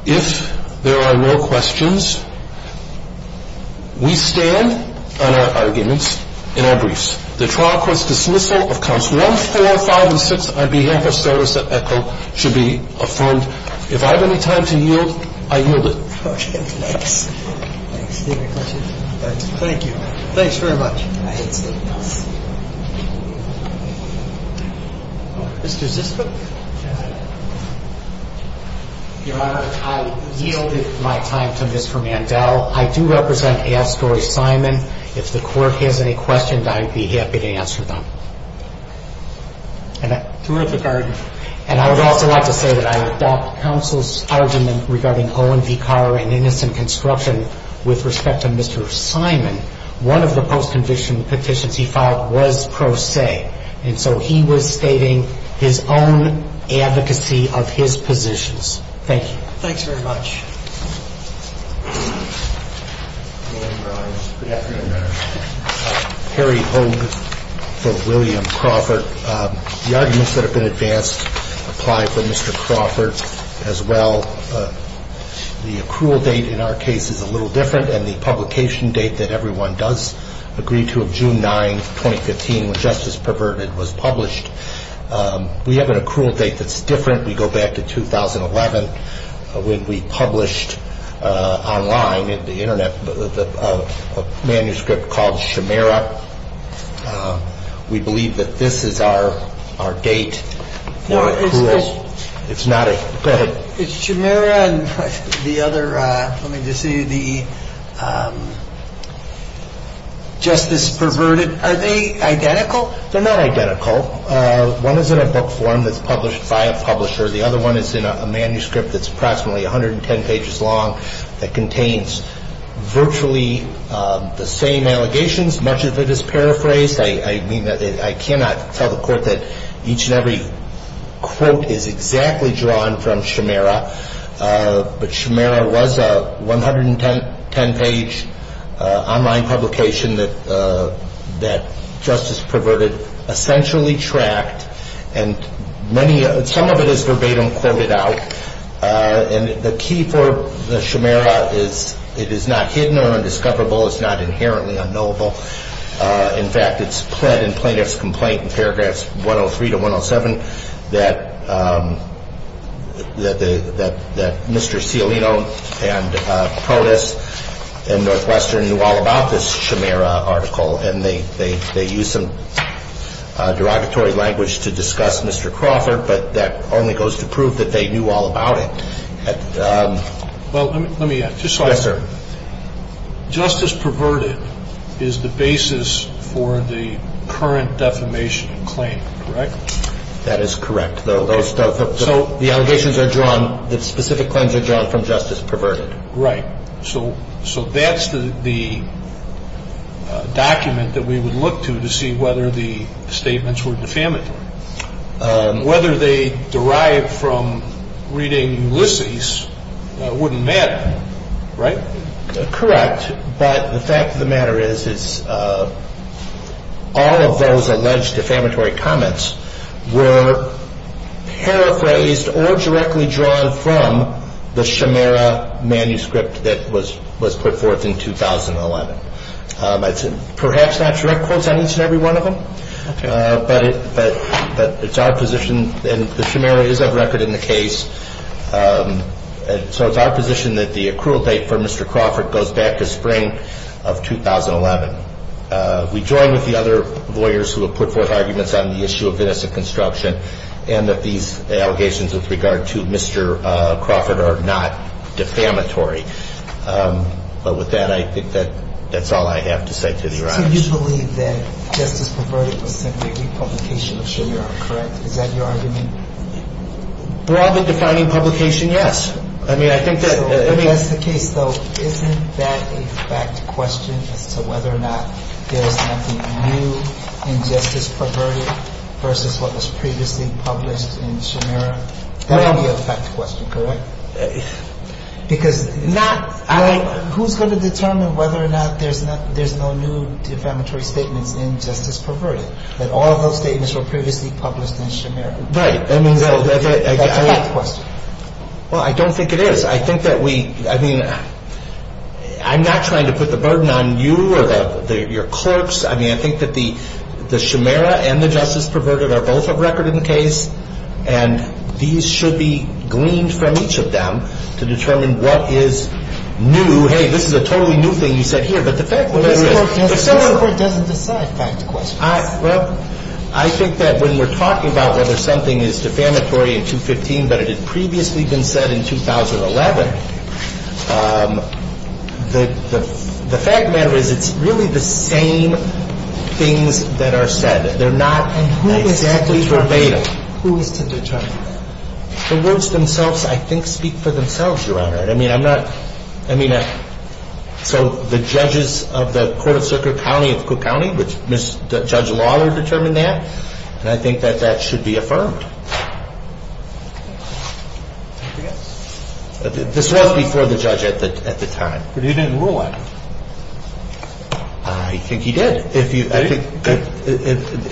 If there are no questions, we stand on our arguments and our briefs. The trial court's dismissal of counts 1, 4, 5, and 6 on behalf of Sotos and Echol should be affirmed. If I have any time to yield, I yield it. Thank you. Thanks very much. Your Honor, I yield my time to Mr. Mandel. I do represent A.L. Story Simon. If the court has any questions, I would be happy to answer them. And I would also like to say that I adopt counsel's argument regarding Owen v. Carr and innocent construction with respect to Mr. Simon. One of the post-condition petitions he filed was pro se, and so he was stating his own advocacy of his positions. Thank you. Thanks very much. Good afternoon, Your Honor. Harry Holmes for William Crawford. The arguments that have been advanced apply for Mr. Crawford as well. The accrual date in our case is a little different than the publication date that everyone does agree to of June 9, 2015, when Justice Perverted was published. We have an accrual date that's different. We go back to 2011. We published online in the Internet a manuscript called Shemera. We believe that this is our date. It's not a credit. It's Shemera and the other, let me just see, the Justice Perverted. Are they identical? They're not identical. One is in a book form that's published by a publisher. The other one is in a manuscript that's approximately 110 pages long that contains virtually the same allegations, much of it is paraphrased. I mean, I cannot tell the court that each and every quote is exactly drawn from Shemera, but Shemera was a 110-page online publication that Justice Perverted essentially tracked, and some of it is verbatim quoted out. The key for Shemera is it is not hidden or undiscoverable. It's not inherently unknowable. In fact, it's pled in plaintiff's complaint in paragraphs 103 to 107 that Mr. Sciolino and POTUS and Northwestern knew all about this Shemera article, and they used some derogatory language to discuss Mr. Crawford, but that only goes to prove that they knew all about it. Well, let me ask you something. Justice Perverted is the basis for the current defamation claim, correct? That is correct. So the allegations are drawn, the specific claims are drawn from Justice Perverted. Right. So that's the document that we would look to to see whether the statements were defamatory. Whether they derived from reading Lucy's wouldn't matter, right? Correct, but the fact of the matter is all of those alleged defamatory comments were paraphrased or directly drawn from the Shemera manuscript that was put forth in 2011. Perhaps not direct quotations in every one of them, but it's our position, and the Shemera is a record in the case, so it's our position that the accrual date for Mr. Crawford goes back to spring of 2011. We join with the other lawyers who have put forth arguments on the issue of business and construction and that these allegations with regard to Mr. Crawford are not defamatory. But with that, I think that's all I have to say to the audience. Do you believe that Justice Perverted was simply a republication of Shemera, correct? Is that your argument? We're always defining publication, yes. I mean, I think that's the case. So isn't that a fact question as to whether or not there is anything new in Justice Perverted versus what was previously published in Shemera? That is a fact question, correct? Because not— Who's going to determine whether or not there's no new defamatory statement in Justice Perverted, that all those statements were previously published in Shemera? Right. I mean, I— That's a fact question. Well, I don't think it is. I think that we—I mean, I'm not trying to put the burden on you or your clerks. I mean, I think that the Shemera and the Justice Perverted are both a record in the case, and these should be gleaned from each of them to determine what is new. Hey, this is a totally new thing you said here. But the fact— But Justice Perverted doesn't defy that question. Well, I think that when we're talking about whether something is defamatory in 215 but it had previously been said in 2011, the fact of the matter is it's really the same things that are said. They're not— And who exactly— Who is the judge? So those themselves, I think, speak for themselves, Your Honor. I mean, I'm not—I mean, so the judges of the Court of Circuit County of Cook County, which Judge Lawler determined that, and I think that that should be affirmed. This was before the judge at the time. But he didn't rule on it. I think he did.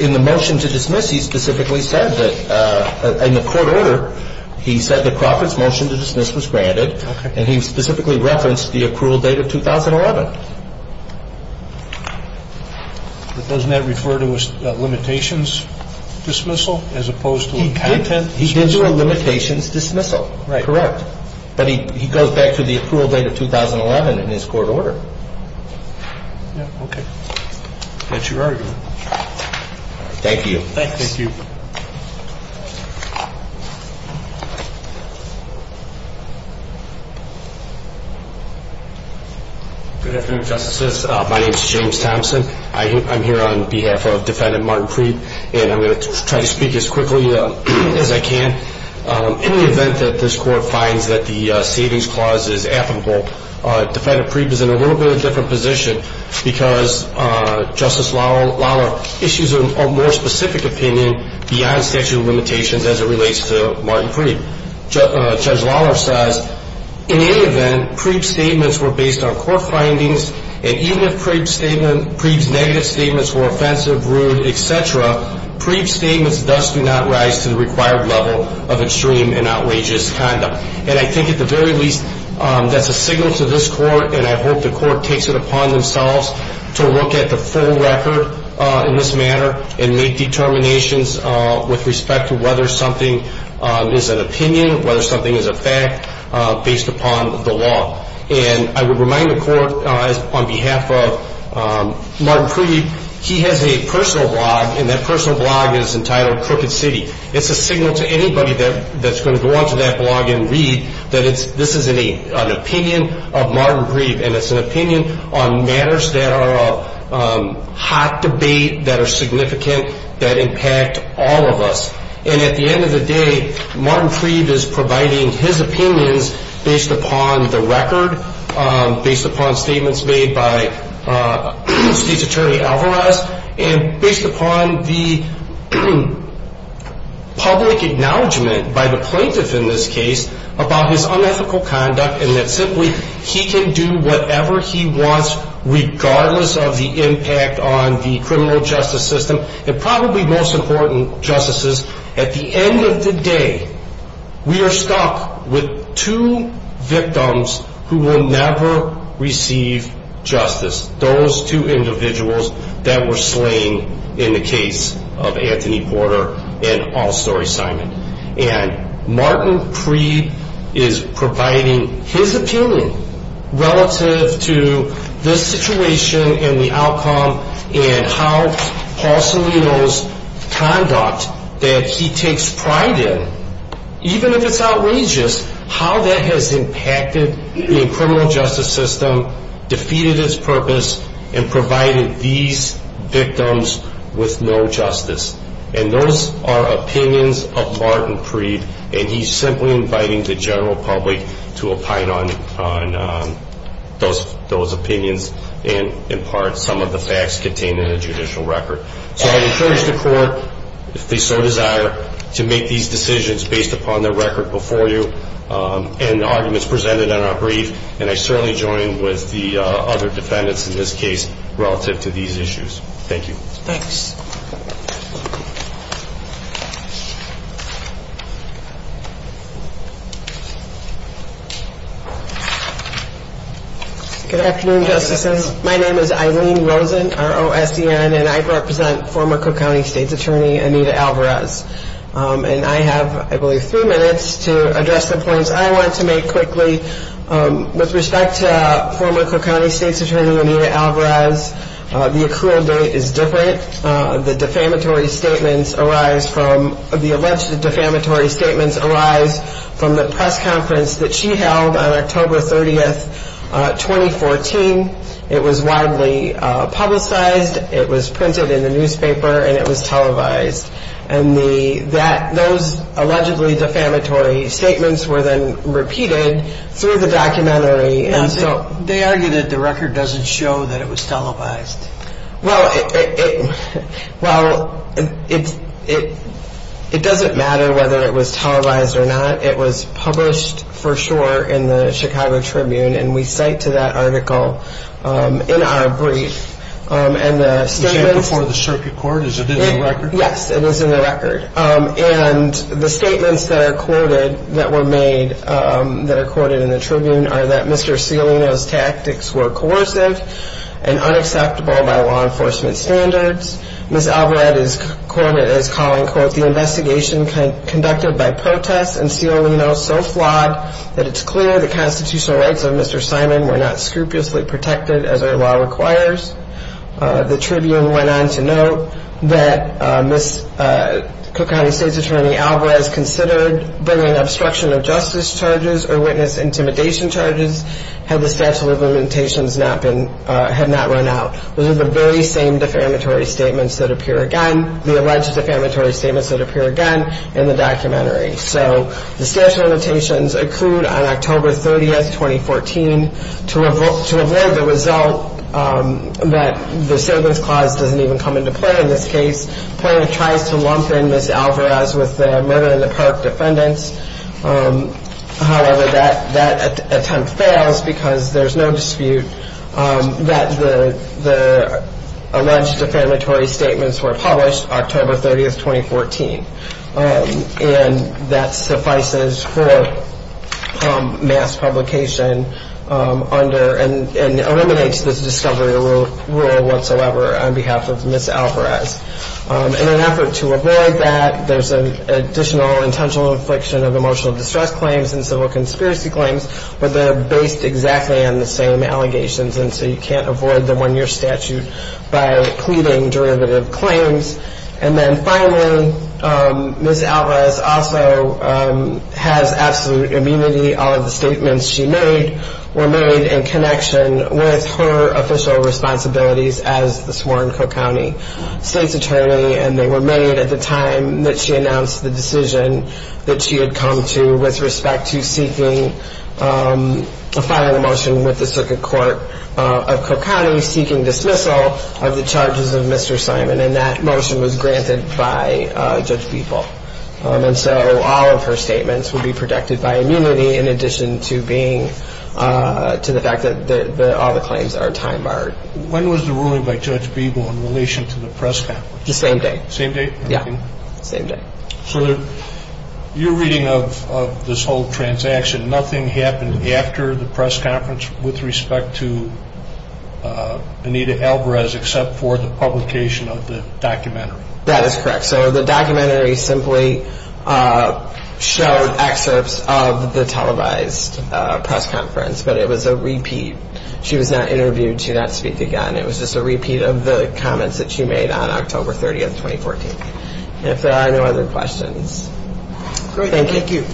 In the motion to dismiss, he specifically said that, in the court order, he said that Crawford's motion to dismiss was granted, and he specifically referenced the accrual date of 2011. But doesn't that refer to a limitations dismissal as opposed to a content dismissal? He did do a limitations dismissal. Correct. But he goes back to the accrual date of 2011 in his court order. Okay. That's your argument. Thank you. Thank you. Good afternoon, Justices. My name is James Thompson. I'm here on behalf of Defendant Martin Creed, and I'm going to try to speak as quickly as I can. In the event that this court finds that the savings clause is affable, Defendant Creed is in a little bit of a different position because Justice Lawler issues a more specific opinion beyond statute of limitations as it relates to Martin Creed. Judge Lawler says, in any event, Creed's statements were based on court findings, and even if Creed's negative statements were offensive, rude, et cetera, Creed's statements thus do not rise to the required level of extreme and outrageous conduct. And I think at the very least that's a signal to this court, and I hope the court takes it upon themselves to look at the full record in this matter and make determinations with respect to whether something is an opinion, whether something is a fact, based upon the law. And I would remind the court, on behalf of Martin Creed, he has a personal blog, and that personal blog is entitled Crooked City. It's a signal to anybody that's going to go on to that blog and read that this is an opinion of Martin Creed, and it's an opinion on matters that are a hot debate, that are significant, that impact all of us. And at the end of the day, Martin Creed is providing his opinions based upon the record, based upon statements made by Chief Attorney Alvarez, and based upon the public acknowledgment by the plaintiff in this case about his unethical conduct and that simply he can do whatever he wants regardless of the impact on the criminal justice system. And probably most important, justices, at the end of the day, we are stopped with two victims who will never receive justice, those two individuals that were slain in the case of Anthony Porter and Paul Story Simon. And Martin Creed is providing his opinion relative to the situation and the outcome and how Paul Solito's conduct that he takes pride in, even if it's outrageous, how that has impacted the criminal justice system, defeated its purpose, and provided these victims with no justice. And those are opinions of Martin Creed, and he's simply inviting the general public to opine on those opinions and impart some of the facts contained in the judicial record. So I fully support the sole desire to make these decisions based upon the record before you and the arguments presented in our brief, and I certainly join with the other defendants in this case relative to these issues. Thank you. Thanks. Good afternoon, Justices. My name is Eileen Rosen, R-O-S-E-N, and I represent former Cook County State's Attorney Anita Alvarez. And I have, I believe, three minutes to address complaints I want to make quickly. With respect to former Cook County State's Attorney Anita Alvarez, the accrual date is different. The defamatory statements arise from, the alleged defamatory statements arise from the press conference that she held on October 30, 2014. It was widely publicized, it was printed in the newspaper, and it was televised. And those allegedly defamatory statements were then repeated through the documentary. They argue that the record doesn't show that it was televised. Well, it doesn't matter whether it was televised or not. It was published for sure in the Chicago Tribune, and we cite to that article in our brief. Was it before the circuit court? Has it been in the record? Yes, it was in the record. And the statements that were made, that are quoted in the Tribune, are that Mr. Cialino's tactics were coercive and unacceptable by law enforcement standards. Ms. Alvarez is quoted as calling the investigation conducted by protests and Cialino's self-blasphemy that it's clear the constitutional rights of Mr. Simon were not scrupulously protected as our law requires. The Tribune went on to note that Ms. Cook County State's Attorney Alvarez considered bringing obstruction of justice charges or witness intimidation charges had the statute of limitations not run out. Those are the very same defamatory statements that appear again, the alleged defamatory statements that appear again in the documentary. So the statute of limitations accrued on October 30, 2014, to avoid the result that the civil cause doesn't even come into play in this case. The Tribune tried to lump in Ms. Alvarez with the murder in the park defendants. However, that attempt fails because there's no dispute that the alleged defamatory statements were published October 30, 2014. And that suffices for mass publication and eliminates this discovery rule whatsoever on behalf of Ms. Alvarez. In an effort to avoid that, there's an additional intentional affliction of emotional distress claims and civil conspiracy claims, but they're based exactly on the same allegations, and so you can't avoid them when you're statute by pleading derivative claims. And then finally, Ms. Alvarez also has absolute immunity. All of the statements she made were made in connection with her official responsibilities as the sworn Cook County State Attorney, and they were made at the time that she announced the decision that she had come to with respect to seeking a filing motion with the Circuit Court of Cook County seeking dismissal of the charges of Mr. Simon, and that motion was granted by Judge Beeble. And so all of her statements would be protected by immunity in addition to the fact that all the claims are time barred. When was the ruling by Judge Beeble in relation to the press conference? The same day. Same day? Yeah, same day. So you're reading of this whole transaction. Nothing happened after the press conference with respect to Anita Alvarez except for the publication of the documentary. That is correct. So the documentary simply showed excerpts of the televised press conference, but it was a repeat. She was not interviewed. She did not speak again. It was just a repeat of the comments that she made on October 30th, 2014. If there are no other questions. Thank you.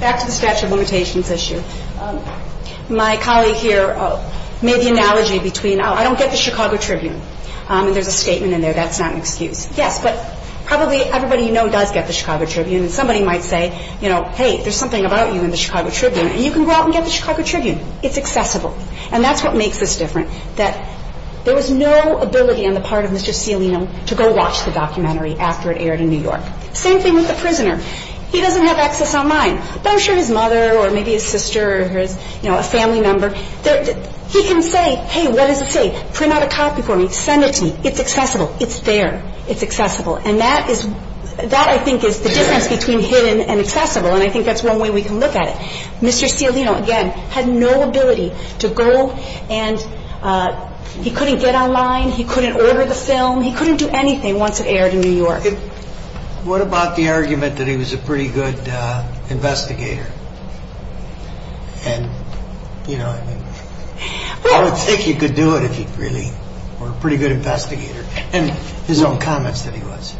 Back to the statute of limitations issue. My colleague here made the analogy between I don't get the Chicago Tribune. There's a statement in there that's not in dispute. Yeah, but probably everybody you know does get the Chicago Tribune. Somebody might say, you know, hey, there's something about you in the Chicago Tribune, and you can go out and get the Chicago Tribune. It's accessible. And that's what makes this different, that there was no ability on the part of Mr. Cillian to go watch the documentary after it aired in New York. Same thing with the prisoner. He doesn't have access online. But I'm sure his mother or maybe his sister or a family member, he can say, hey, what does it say? Print out a copy for me. Send it to me. It's accessible. It's there. It's accessible. And that I think is the difference between hidden and accessible, and I think that's one way we can look at it. Mr. Cillian, again, had no ability to go and he couldn't get online. He couldn't order the film. He couldn't do anything once it aired in New York. What about the argument that he was a pretty good investigator? I think he could do it if he really were a pretty good investigator. And his own comments that he was.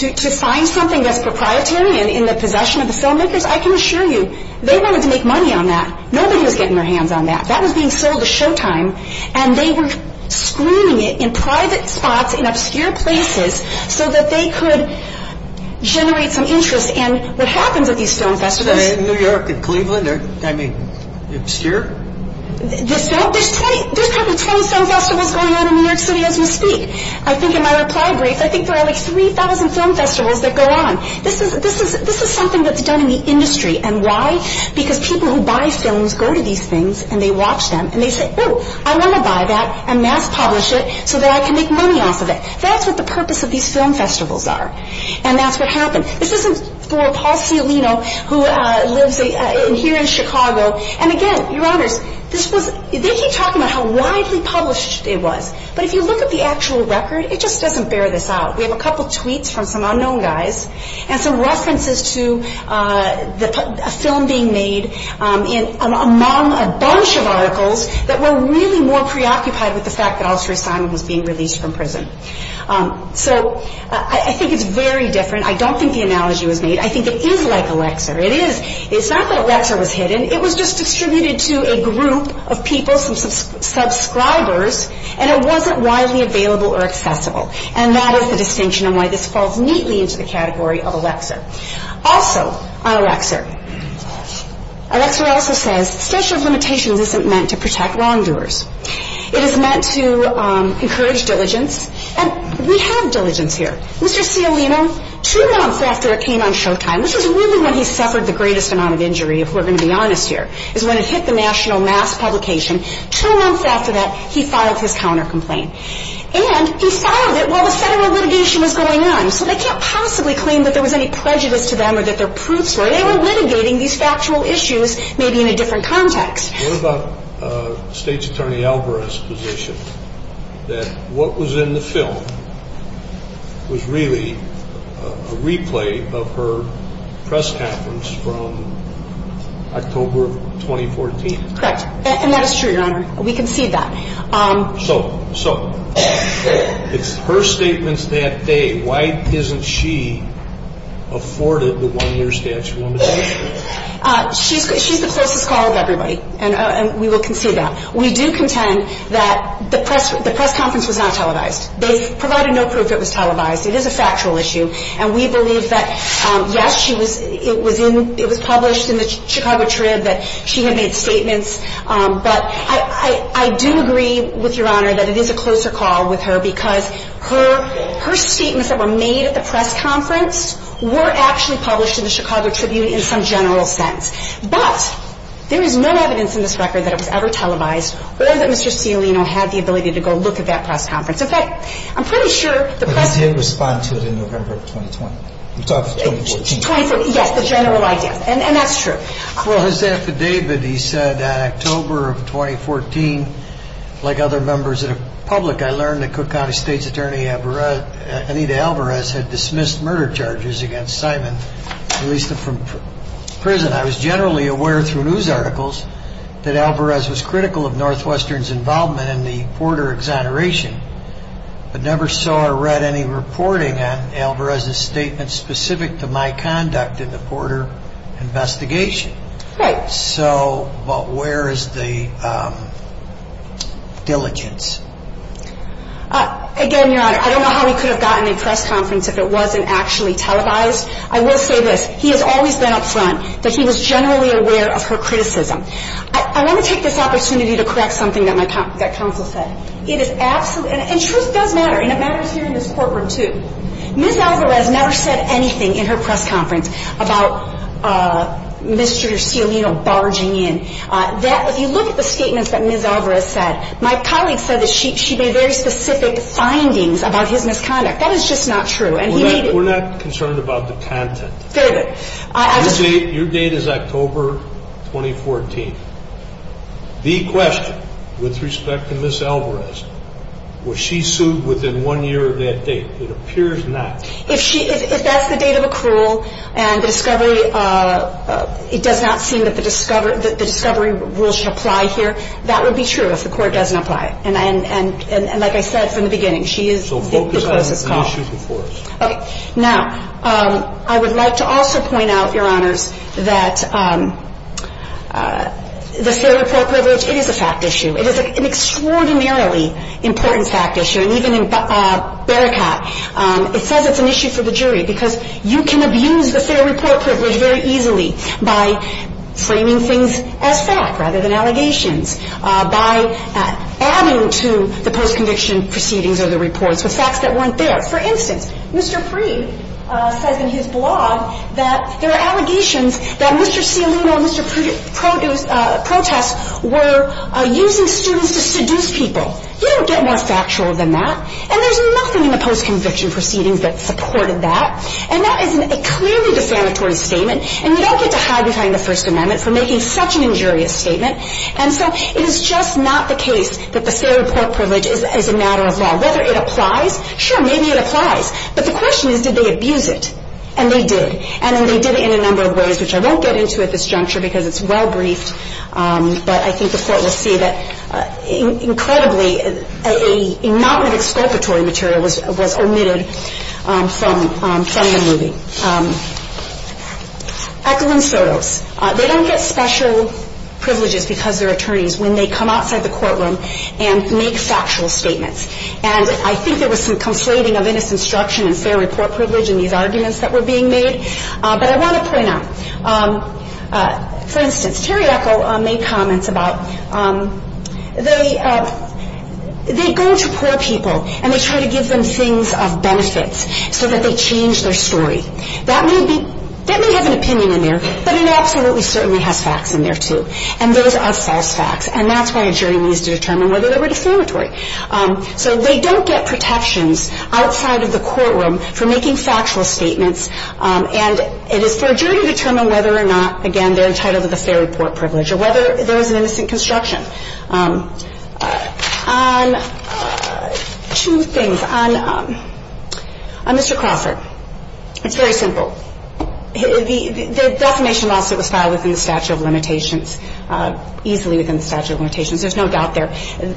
To find something that's proprietary and in the possession of the filmmakers, I can assure you, they wanted to make money on that. Nobody was getting their hands on that. That was being sold to Showtime, and they were screening it in private spots in obscure places so that they could generate some interest. In New York, in Cleveland, obscure? There's 20 film festivals going on in New York City as you see. I think in my reply brief, I think there are like 3,000 film festivals that go on. This is something that's done in the industry, and why? Because people who buy films go to these things, and they watch them, and they say, oh, I want to buy that and mass-publish it so that I can make money off of it. That's what the purpose of these film festivals are, and that's what happened. This isn't for Paul Fiolino, who lives here in Chicago. And again, Your Honors, they keep talking about how wisely published it was, but if you look at the actual record, it just doesn't bear this out. We have a couple of tweets from some unknown guys and some references to a film being made among a bunch of articles that were really more preoccupied with the fact that Alfred Simon was being released from prison. So I think it's very different. I don't think the analogy was made. I think it is like Alexa. It's not that Alexa was hidden. It was just distributed to a group of people, subscribers, and it wasn't widely available or accessible, and that is the distinction and why this falls neatly into the category of Alexa. Also on Alexa, Alexa also says, special limitation isn't meant to protect wrongdoers. It is meant to encourage diligence, and we have diligence here. Mr. Fiolino, two months after it came on Showtime, this is really when he suffered the greatest amount of injury, if we're going to be honest here, is when it hit the national mass publication. Two months after that, he filed his counter complaint, and he filed it while the federal litigation was going on, so they can't possibly claim that there was any prejudice to them or that their proofs were. They were litigating these factual issues, maybe in a different context. What about State's Attorney Alvarez's position that what was in the film was really a replay of her press conference from October 2014? Correct, and that is true, Your Honor. We can see that. So, it's her statements that day. Why isn't she afforded the one-year statute of limitations? She's a closer call to everybody, and we will concede that. We do contend that the press conference was not televised. They provided no proof that it was televised. It is a factual issue, and we believe that, yes, it was published in the Chicago Trib, that she had made statements, but I do agree with Your Honor that it is a closer call with her because her statements that were made at the press conference were actually published in the Chicago Tribute in some general sense. But, there is no evidence in this record that it was ever televised, or that Mr. Scalino had the ability to go look at that press conference. But I did respond to it in November of 2020. Yes, the general idea, and that's true. Well, as to David, he said that October of 2014, like other members of the public, I learned that Cook County State's Attorney, Anita Alvarez, had dismissed murder charges against Simon and released him from prison. I was generally aware through news articles that Alvarez was critical of Northwestern's involvement in the border exoneration, but never saw or read any reporting on Alvarez's statement specific to my conduct in the border investigation. So, but where is the diligence? Again, Your Honor, I don't know how he could have gotten in press conference if it wasn't actually televised. I will say this, he has always been up front, but he was generally aware of her criticism. I want to take this opportunity to correct something that my counsel said. It is absolutely, and truth does matter, and it matters here in this courtroom too. Ms. Alvarez never said anything in her press conference about Mr. Stiolino barging in. If you look at the statements that Ms. Alvarez said, my colleague said that she made very specific findings about his misconduct. That is just not true. We're not concerned about the content. Your date is October 2014. The question, with respect to Ms. Alvarez, was she sued within one year of that date? It appears not. If that's the date of accrual, and the discovery, it does not seem that the discovery rule should apply here, that would be true if the court doesn't apply it. And like I said from the beginning, she is- So focus on the issues of course. Okay. Now, I would like to also point out, Your Honor, that the civil court privilege is a fact issue. It is an extraordinarily important fact issue, and even in Bericat, it says it's an issue for the jury because you can abuse the fair report privilege very easily by framing things as fact rather than allegations, by adding to the post-conviction proceedings or the reports the facts that weren't there. For instance, Mr. Freeh says in his blog that there are allegations that Mr. Stiolino and Mr. Profess were using students to seduce people. You don't get more factual than that, and there's nothing in the post-conviction proceedings that supported that, and that is a clearly defamatory statement, and you don't get the haggard line in the First Amendment for making such an injurious statement, and so it is just not the case that the fair report privilege is a matter of law. Whether it applies? Sure, maybe it applies. But the question is, did they abuse it? And they did, and they did it in a number of ways, which I won't get into at this juncture because it's well briefed, but I think the court will see that, incredibly, a not-with-explanatory material was omitted from the movie. Ackerman-Soto. They don't get special privileges because they're attorneys when they come outside the courtroom and make factual statements, and I think there was some conflating of innocent instruction and fair report privilege in these arguments that were being made, but I want to point out, for instance, Terry Echol made comments about they go to poor people and they try to give them things of benefit so that they change their story. That may have an opinion in there, but it absolutely certainly has facts in there, too, and those are false facts, and that's why a jury needs to determine whether they were defamatory. So they don't get protections outside of the courtroom for making factual statements, and it is for a jury to determine whether or not, again, they're entitled to the fair report privilege or whether there is an innocent instruction. Two things. On Mr. Crawford, it's very simple. The defamation lawsuit was filed within the statute of limitations, easily within the statute of limitations. There's no doubt there.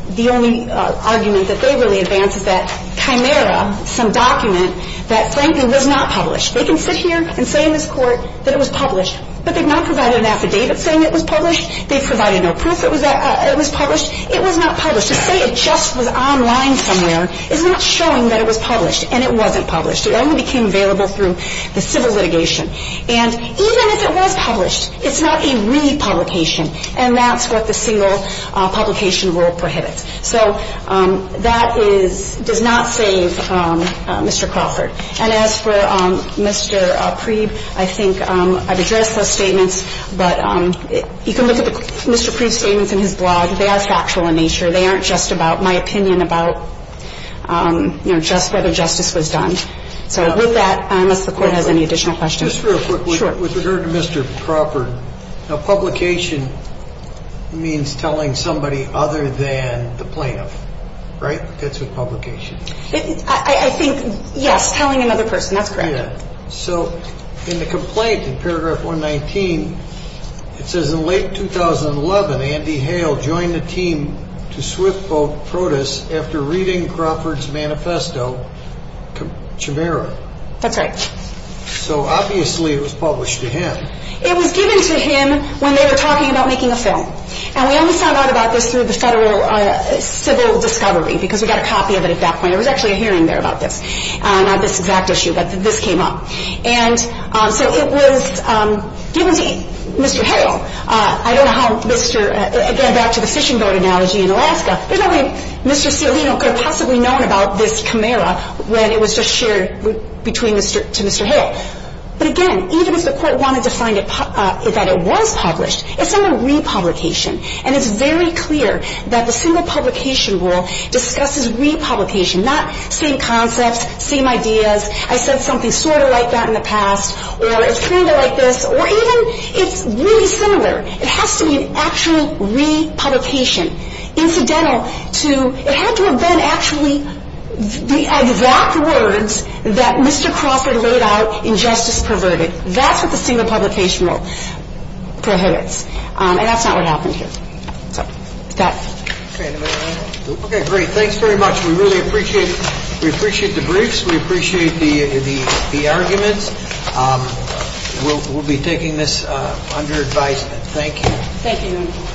The only argument that they really advance is that chimera, some document that Franklin would not publish. They can sit here and say in this court that it was published, but they've not provided an affidavit saying it was published. They've provided no proof it was published. It was not published. They say it just was online somewhere. It's not showing that it was published, and it wasn't published. It only became available through the civil litigation, and even if it was published, it's not a re-publication, and that's what the single publication rule prohibits. So that does not save Mr. Crawford, And as for Mr. Preeb, I think I've addressed those statements, but you can look at Mr. Preeb's statements in his blog. They are factual in nature. They aren't just about my opinion about whether justice was done. So with that, I don't know if the court has any additional questions. Just real quickly, with regard to Mr. Crawford, a publication means telling somebody other than the plaintiff, right? That's a publication. I think, yes, telling another person. That's correct. So in the complaint, in paragraph 119, it says, In late 2011, Andy Hale joined the team to swift-boat Protus after reading Crawford's manifesto, Chimera. That's right. So obviously it was published to him. It was given to him when they were talking about making a film, and we only found out about this through the civil discovery because we got a copy of it at that point. There was actually a hearing there about this, on this exact issue, that this came up. And so it was given to Mr. Hale. I don't know how Mr. Hale got back to the fishing boat analogy in Alaska. There's no way Mr. Hale could have possibly known about this chimera when it was just shared to Mr. Hale. But, again, even if the court wanted to find out that it was published, it's not a republication, and it's very clear that the single publication rule discusses republication, not same concepts, same ideas. I said something sort of like that in the past, or it's kind of like this, or even it's really similar. It has to be an actual republication. Incidental to, it had to have been actually the exact words that Mr. Crawford laid out in Justice Perverted. That's what the single publication rule prohibits, and that's not what happened here. Okay, great. Thanks very much. We really appreciate it. We appreciate the briefs. We appreciate the argument. We'll be taking this under advisement. Thank you. Thank you.